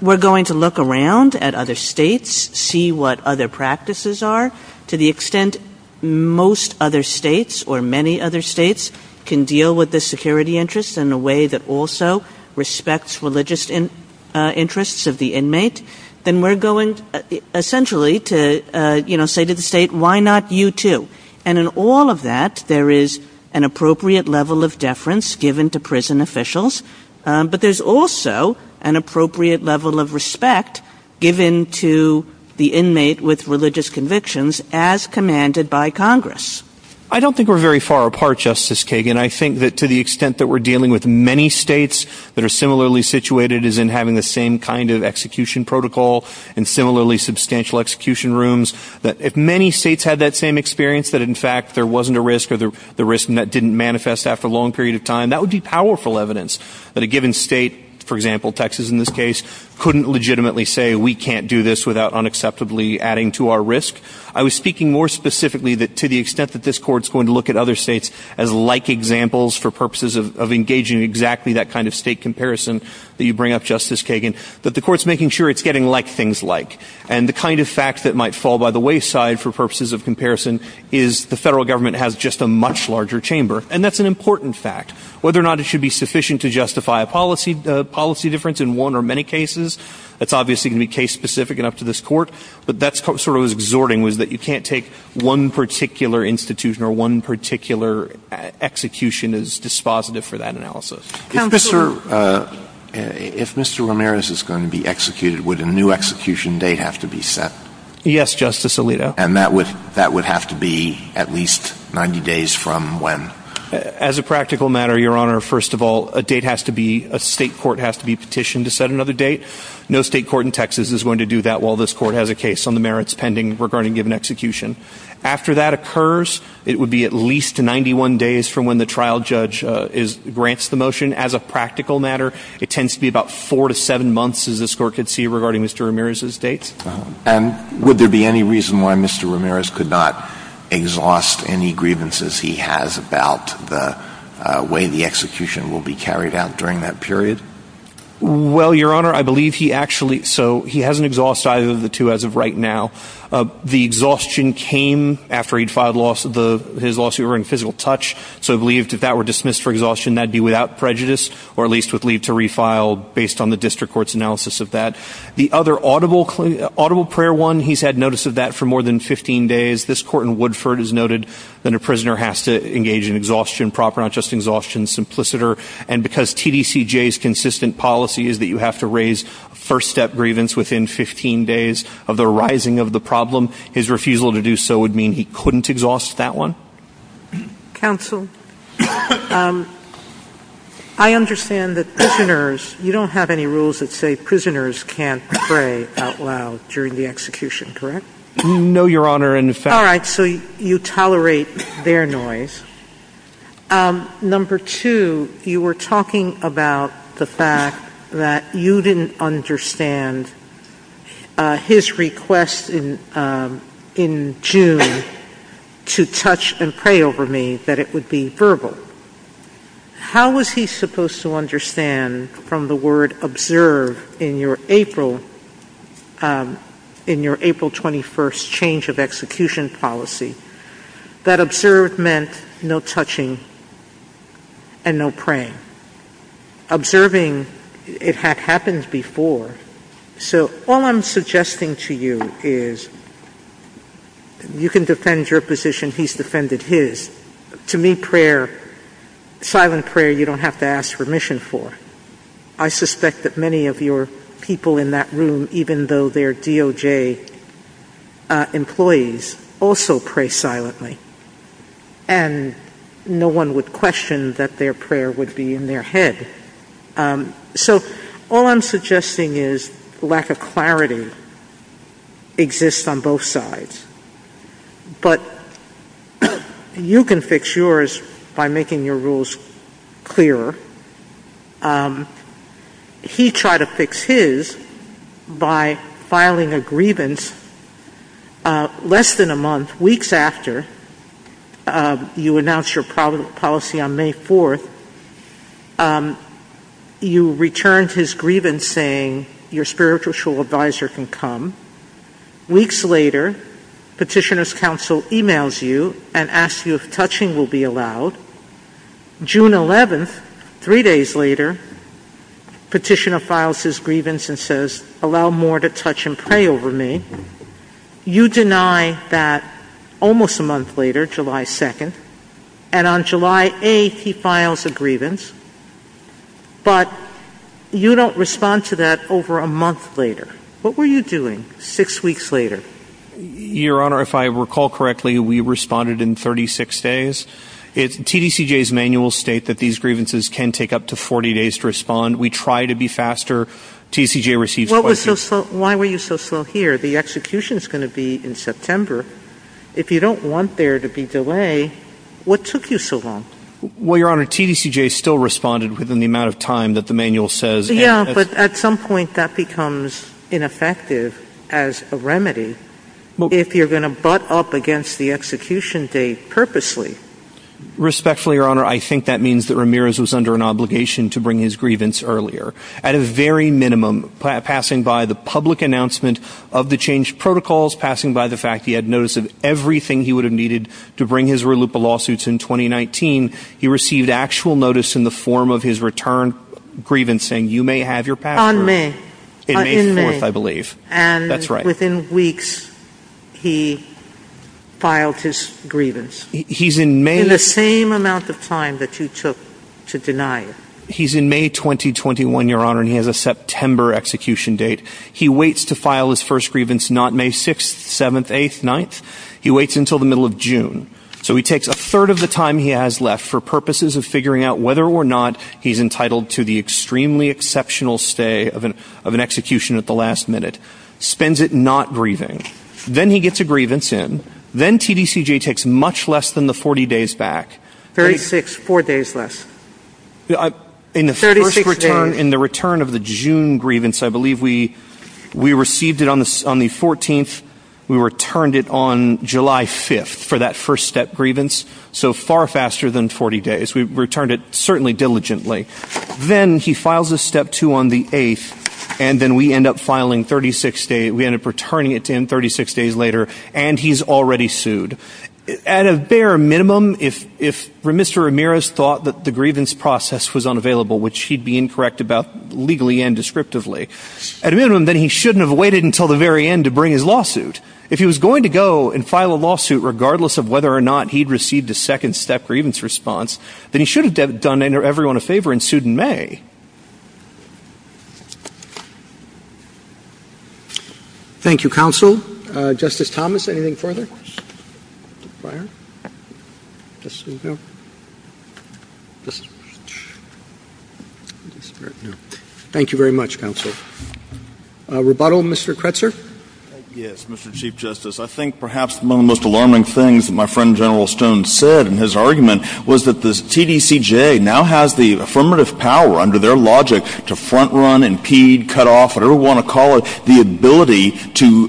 we're going to look around at other states, see what other practices are, to the extent most other states or many other states can deal with the security interest in a way that also respects religious interests of the inmate, then we're going essentially to say to the state, why not you too? And in all of that, there is an appropriate level of deference given to prison officials, but there's also an appropriate level of respect given to the inmate with religious convictions as commanded by Congress. I don't think we're very far apart, Justice Kagan. I think that to the extent that we're dealing with many states that are similarly situated as in having the same kind of execution protocol and similarly substantial execution rooms, that if many states had that same experience, that in fact there wasn't a risk and that would be powerful evidence that a given state, for example Texas in this case, couldn't legitimately say we can't do this without unacceptably adding to our risk. I was speaking more specifically to the extent that this court's going to look at other states as like examples for purposes of engaging in exactly that kind of state comparison that you bring up, Justice Kagan, but the court's making sure it's getting like things like. And the kind of fact that might fall by the wayside for purposes of comparison is the federal government has just a much larger chamber. And that's an important fact. Whether or not it should be sufficient to justify a policy difference in one or many cases, that's obviously going to be case specific enough to this court, but that's sort of what's exhorting is that you can't take one particular institution or one particular execution as dispositive for that analysis. If Mr. Ramirez is going to be executed, would a new execution day have to be set? Yes, Justice Alito. And that would have to be at least 90 days from when? As a practical matter, Your Honor, first of all, a date has to be, a state court has to be petitioned to set another date. No state court in Texas is going to do that while this court has a case on the merits pending regarding given execution. After that occurs, it would be at least 91 days from when the trial judge grants the motion. As a practical matter, it tends to be about four to seven months, as this court could see, regarding Mr. Ramirez's date. And would there be any reason why Mr. Ramirez could not exhaust any grievances he has about the way the execution will be carried out during that period? Well, Your Honor, I believe he actually, so he hasn't exhausted either of the two as of right now. The exhaustion came after he'd filed his lawsuit in physical touch, so I believe if that were dismissed for exhaustion, that would be without prejudice, or at least would lead to refile based on the district court's analysis of that. The other audible prayer one, he's had notice of that for more than 15 days. This court in Woodford has noted that a prisoner has to engage in exhaustion proper, not just exhaustion simpliciter, and because TDCJ's consistent policy is that you have to raise first step grievance within 15 days of the arising of the problem, his refusal to do so would mean he couldn't exhaust that one. Counsel, I understand that prisoners, you don't have any rules that say that prisoners can't pray out loud during the execution, correct? No, Your Honor. All right, so you tolerate their noise. Number two, you were talking about the fact that you didn't understand his request in June to touch and pray over me, that it would be verbal. How was he supposed to understand from the word observe in your April 21st change of execution policy that observe meant no touching and no praying? Observing, it had happened before, so all I'm suggesting to you is you can defend your position, and he's defended his. To me, silent prayer, you don't have to ask permission for. I suspect that many of your people in that room, even though they're DOJ employees, also pray silently, and no one would question that their prayer would be in their head. So all I'm suggesting is lack of clarity exists on both sides. But you can fix yours by making your rules clearer. He tried to fix his by filing a grievance less than a month, weeks after you announced your policy on May 4th. You returned his grievance saying your spiritual advisor can come. Weeks later, petitioner's counsel emails you and asks you if touching will be allowed. June 11th, three days later, petitioner files his grievance and says allow more to touch and pray over me. You deny that almost a month later, July 2nd, and on July 8th he files a grievance, but you don't respond to that over a month later. What were you doing six weeks later? Your Honor, if I recall correctly, we responded in 36 days. TDCJ's manuals state that these grievances can take up to 40 days to respond. We try to be faster. TDCJ receives questions. Why were you so slow here? The execution is going to be in September. If you don't want there to be delay, what took you so long? Well, Your Honor, TDCJ still responded within the amount of time that the manual says. Yeah, but at some point that becomes ineffective as a remedy if you're going to butt up against the execution date purposely. Respectfully, Your Honor, I think that means that Ramirez was under an obligation to bring his grievance earlier. At a very minimum, passing by the public announcement of the change protocols, passing by the fact that he had noticed everything he would have needed to bring his relupa lawsuits in 2019, he received actual notice in the form of his return grievance saying, you may have your password in May 4th, I believe. And within weeks, he filed his grievance in the same amount of time that you took to deny it. He's in May 2021, Your Honor, and he has a September execution date. He waits to file his first grievance not May 6th, 7th, 8th, 9th. He waits until the middle of June. So he takes a third of the time he has left for purposes of figuring out whether or not he's entitled to the extremely exceptional stay of an execution at the last minute. Spends it not grieving. Then he gets a grievance in. Then TDCJ takes much less than the 40 days back. 36, 4 days left. In the return of the June grievance, I believe we received it on the 14th. We returned it on July 5th for that first step grievance. So far faster than 40 days. We returned it certainly diligently. Then he files a step two on the 8th, and then we end up filing 36 days. We end up returning it to him 36 days later, and he's already sued. At a bare minimum, if Mr. Ramirez thought that the grievance process was unavailable, which he'd be incorrect about legally and descriptively, at a minimum, then he shouldn't have waited until the very end to bring his lawsuit. If he was going to go and file a lawsuit regardless of whether or not he'd received the second step grievance response, then he should have done everyone a favor and sued in May. Thank you, Counsel. Justice Thomas, anything further? No. Thank you very much, Counsel. A rebuttal, Mr. Kretzer? Yes, Mr. Chief Justice. I think perhaps one of the most alarming things that my friend, General Stone, said in his argument was that the TDCJ now has the affirmative power under their logic to front run, impede, cut off, whatever you want to call it, the ability to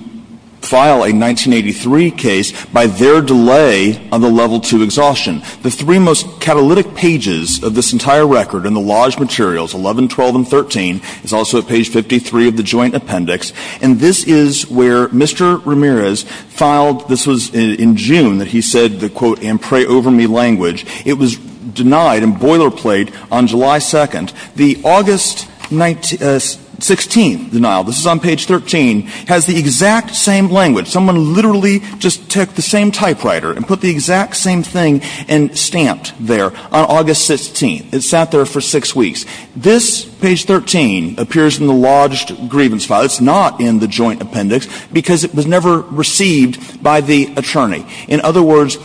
file a 1983 case by their delay on the Level II exhaustion. The three most catalytic pages of this entire record in the Lodge materials, 11, 12, and 13, is also at page 53 of the Joint Appendix, and this is where Mr. Ramirez filed. This was in June that he said the quote in pray-over-me language. It was denied and boilerplate on July 2nd. The August 16th denial, this is on page 13, has the exact same language. Someone literally just took the same typewriter and put the exact same thing and stamped there on August 16th. It sat there for six weeks. This, page 13, appears in the Lodge grievance file. It's not in the Joint Appendix because it was never received by the attorney. In other words,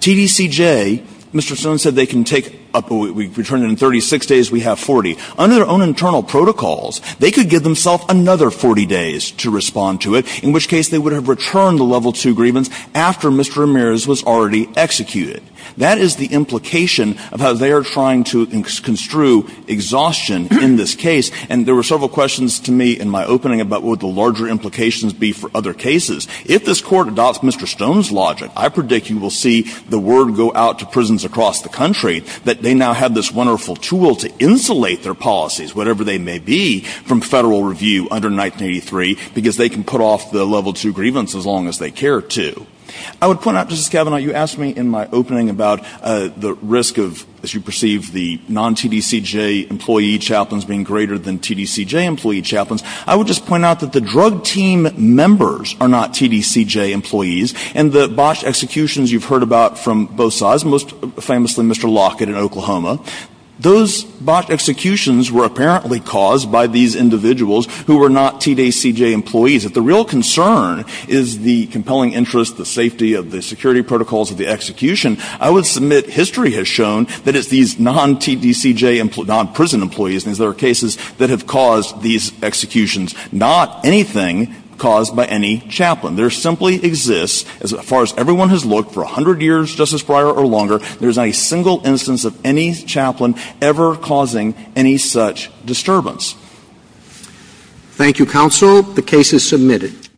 TDCJ, Mr. Stone said they can take up what we've returned in 36 days, we have 40. Under their own internal protocols, they could give themselves another 40 days to respond to it, in which case they would have returned the Level II grievance after Mr. Ramirez was already executed. That is the implication of how they are trying to construe exhaustion in this case, and there were several questions to me in my opening about what would the larger implications be for other cases. If this Court adopts Mr. Stone's logic, I predict you will see the word go out to prisons across the country that they now have this wonderful tool to insulate their policies, whatever they may be, from federal review under 1983 because they can put off the Level II grievance as long as they care to. I would point out, Justice Kavanaugh, you asked me in my opening about the risk of, as you perceive, the non-TDCJ employee chaplains being greater than TDCJ employee chaplains. I would just point out that the drug team members are not TDCJ employees, and the botched executions you've heard about from both sides, most famously Mr. Lockett in Oklahoma, those botched executions were apparently caused by these individuals who were not TDCJ employees. If the real concern is the compelling interest, the safety of the security protocols of the execution, I would submit history has shown that it's these non-TDCJ, non-prison employees in these other cases that have caused these executions, not anything caused by any chaplain. There simply exists, as far as everyone has looked for 100 years, Justice Breyer, or longer, there's not a single instance of any chaplain ever causing any such disturbance. Thank you, Counsel. The case is submitted.